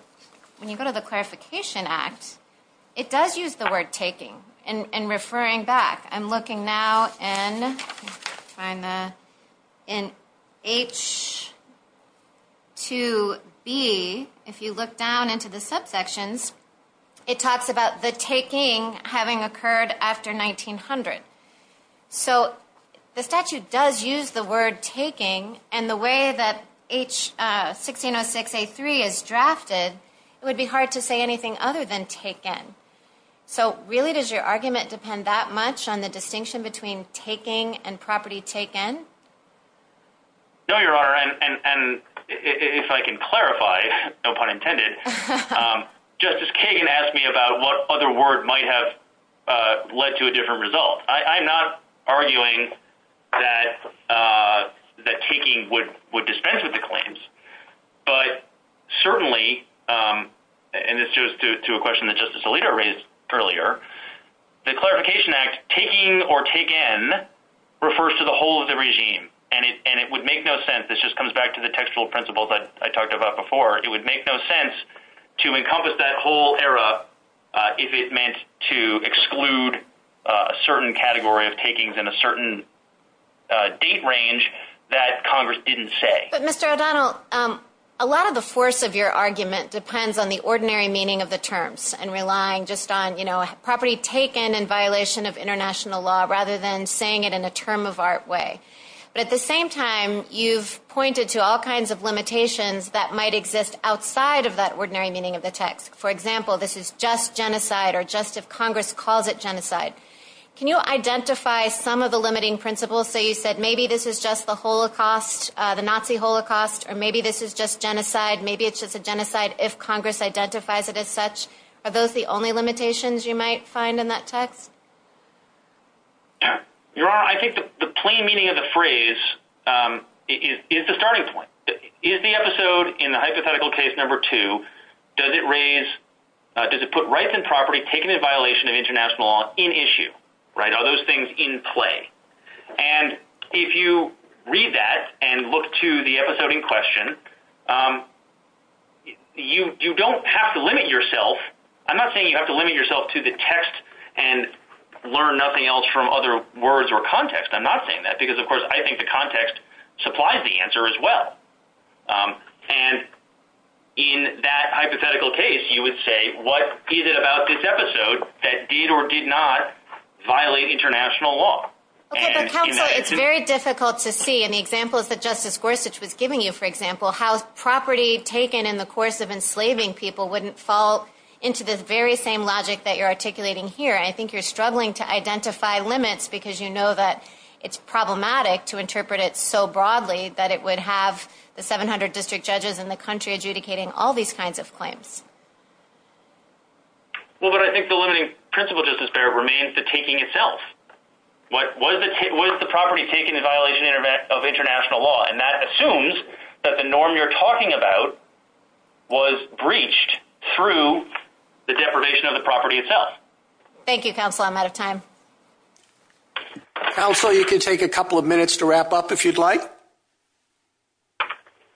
Clarification Act, it does use the word taking, and the way that 1606A3 is drafted, it would be hard to say anything other than taken. So, really, does your argument depend that much on the distinction between taking and property taken? No, Your Honor, and if I can clarify, no pun intended, Justice Kagan asked me about what other word might have led to a different result. I'm not arguing that taking would dispense with earlier. The Clarification Act, taking or taken, refers to the whole of the regime, and it would make no sense, this just comes back to the textual principles that I talked about before, it would make no sense to encompass that whole era if it meant to exclude a certain category of takings in a certain date range that Congress didn't say. But Mr. O'Donnell, a lot of the force of your argument depends on the ordinary meaning of the terms, and relying just on, you know, property taken in violation of international law, rather than saying it in a term of art way. But at the same time, you've pointed to all kinds of limitations that might exist outside of that ordinary meaning of the text. For example, this is just genocide, or just if Congress calls it genocide. Can you identify some of the limiting principles, so you said maybe this is just the Holocaust, the Nazi Holocaust, or maybe this is just genocide, maybe it's just a genocide if Congress identifies it as such? Are those the only limitations you might find in that text? Your Honor, I think the plain meaning of the phrase is the starting point. Is the episode in the hypothetical case number two, does it raise, does it put rights and property taken in violation of international law in issue, right? Are those things in play? And if you read that and look to the episode in question, um, you don't have to limit yourself. I'm not saying you have to limit yourself to the text and learn nothing else from other words or context. I'm not saying that, because of course, I think the context supplies the answer as well. And in that hypothetical case, you would say, what is it about this episode that did or did not violate international law? Okay, the concept is very difficult to see. An example is that Justice Gorsuch was giving you, for example, how property taken in the course of enslaving people wouldn't fall into this very same logic that you're articulating here. I think you're struggling to identify limits, because you know that it's problematic to interpret it so broadly, that it would have the 700 district judges in the country adjudicating all these kinds of claims. Well, but I think the limiting principle justice there remains the taking itself. What was the, what is the property taken the violation of international law, and that assumes that the norm you're talking about was breached through the deprivation of the property itself. Thank you, counsel. I'm out of time. Also, you can take a couple of minutes to wrap up if you'd like.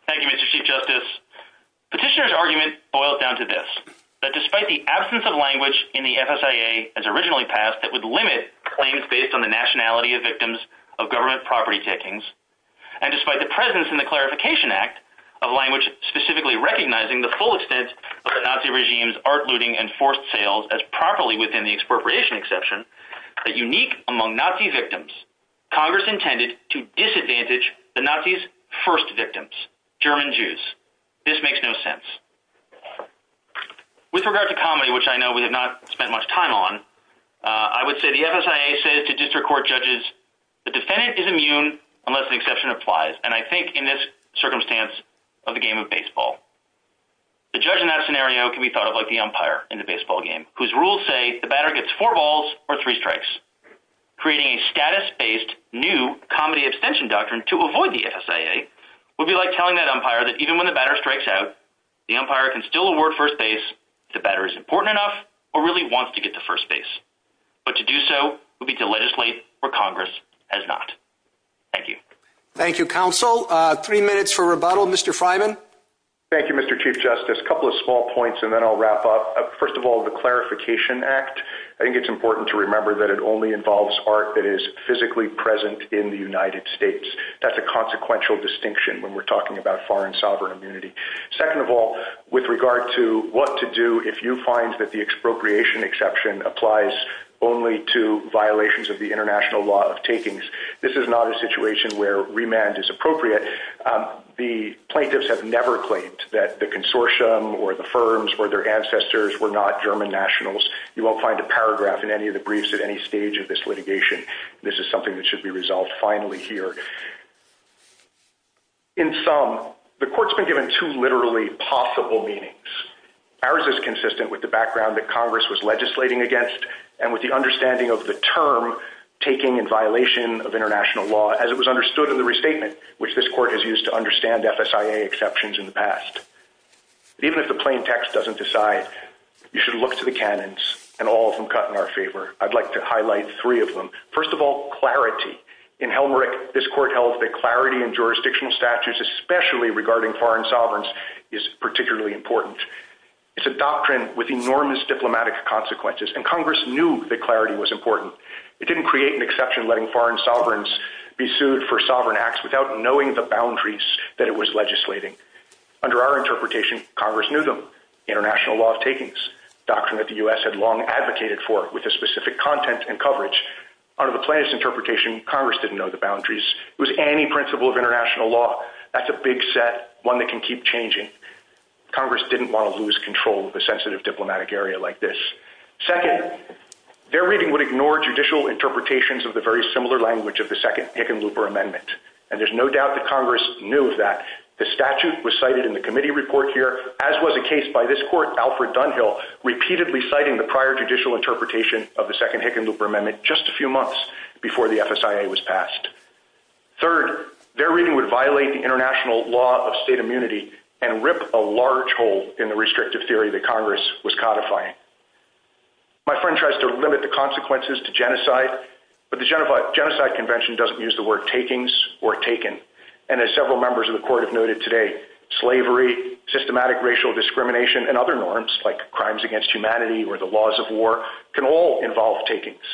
Thank you, Mr. Chief Justice. Petitioner's argument boils down to this, that despite the absence of language in the FSIA as originally passed that would limit claims based on the nationality of victims of government property takings, and despite the presence in the Clarification Act of language specifically recognizing the full extent of the Nazi regime's art looting and forced sales as properly within the expropriation exception, a unique among Nazi victims, Congress intended to disadvantage the Nazis' first victims, German Jews. This makes no sense. With regard to comedy, which I know we have not spent much time on, I would say the FSIA says to district court judges, the defendant is immune unless an exception applies. And I think in this circumstance of the game of baseball, the judge in that scenario can be thought of like the umpire in the baseball game, whose rules say the batter gets four balls or three strikes, creating a status-based new comedy extension doctrine to avoid the FSIA, would be like telling that umpire that even when the batter strikes out, the umpire can still award first base if the batter is important enough or really wants to get to first base. But to do so would be to legislate where Congress has not. Thank you. Thank you, counsel. Three minutes for rebuttal. Mr. Fryman. Thank you, Mr. Chief Justice. A couple of small points and then I'll wrap up. First of all, the Clarification Act, I think it's important to remember that it only involves art that is physically present in the United States. That's a consequential distinction when we're talking about foreign sovereign immunity. Second of all, with regard to what to do if you find that the expropriation exception applies only to violations of the international law of takings, this is not a situation where remand is appropriate. The plaintiffs have never claimed that the consortium or the firms or their ancestors were not German nationals. You won't find a paragraph in any of the briefs at any stage of this litigation. This is something that should be resolved finally here. In sum, the court's been given two literally possible meanings. Ours is consistent with the background that Congress was legislating against and with the understanding of the term taking in violation of international law as it was understood in the restatement, which this court has used to understand FSIA exceptions in the past. Even if the plain text doesn't decide, you should look to the canons and all of them cut in our favor. I'd like to highlight three of them. First of all, clarity. In Helmrich, this court held that clarity in jurisdictional statutes, especially regarding foreign sovereigns, is particularly important. It's a doctrine with enormous diplomatic consequences and Congress knew that clarity was important. It didn't create an exception letting foreign sovereigns be sued for sovereign acts without knowing the boundaries that it was legislating. Under our interpretation, Congress knew them. International law of takings, a doctrine that the U.S. had long advocated for with a specific content and coverage. Under the plaintiff's interpretation, Congress didn't know the boundaries. It was any principle of international law. That's a big set, one that can keep changing. Congress didn't want to lose control of a sensitive diplomatic area like this. Second, their reading would ignore judicial interpretations of the very similar language of the second Hickenlooper amendment. And there's no doubt that Congress knew of that. The statute was cited in the committee report here, as was the case by this court, Alfred Dunhill, repeatedly citing the prior judicial interpretation of the second Hickenlooper amendment just a few months before the FSIA was passed. Third, their reading would violate the international law of state immunity and rip a large hole in the restrictive theory that Congress was codifying. My friend tries to limit the consequences to genocide, but the genocide convention doesn't use the word takings or taken. And as several members of the court have noted today, slavery, systematic racial discrimination, and other norms like crimes against humanity or the laws of war can all involve takings.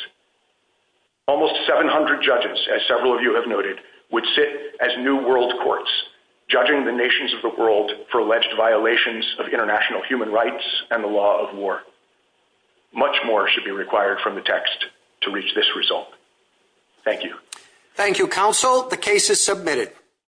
Almost 700 judges, as several of you have noted, would sit as new world courts judging the nations of the world for alleged violations of international human rights and the law of war. Much more should be required from the text to reach this result. Thank you. Thank you, counsel. The case is submitted.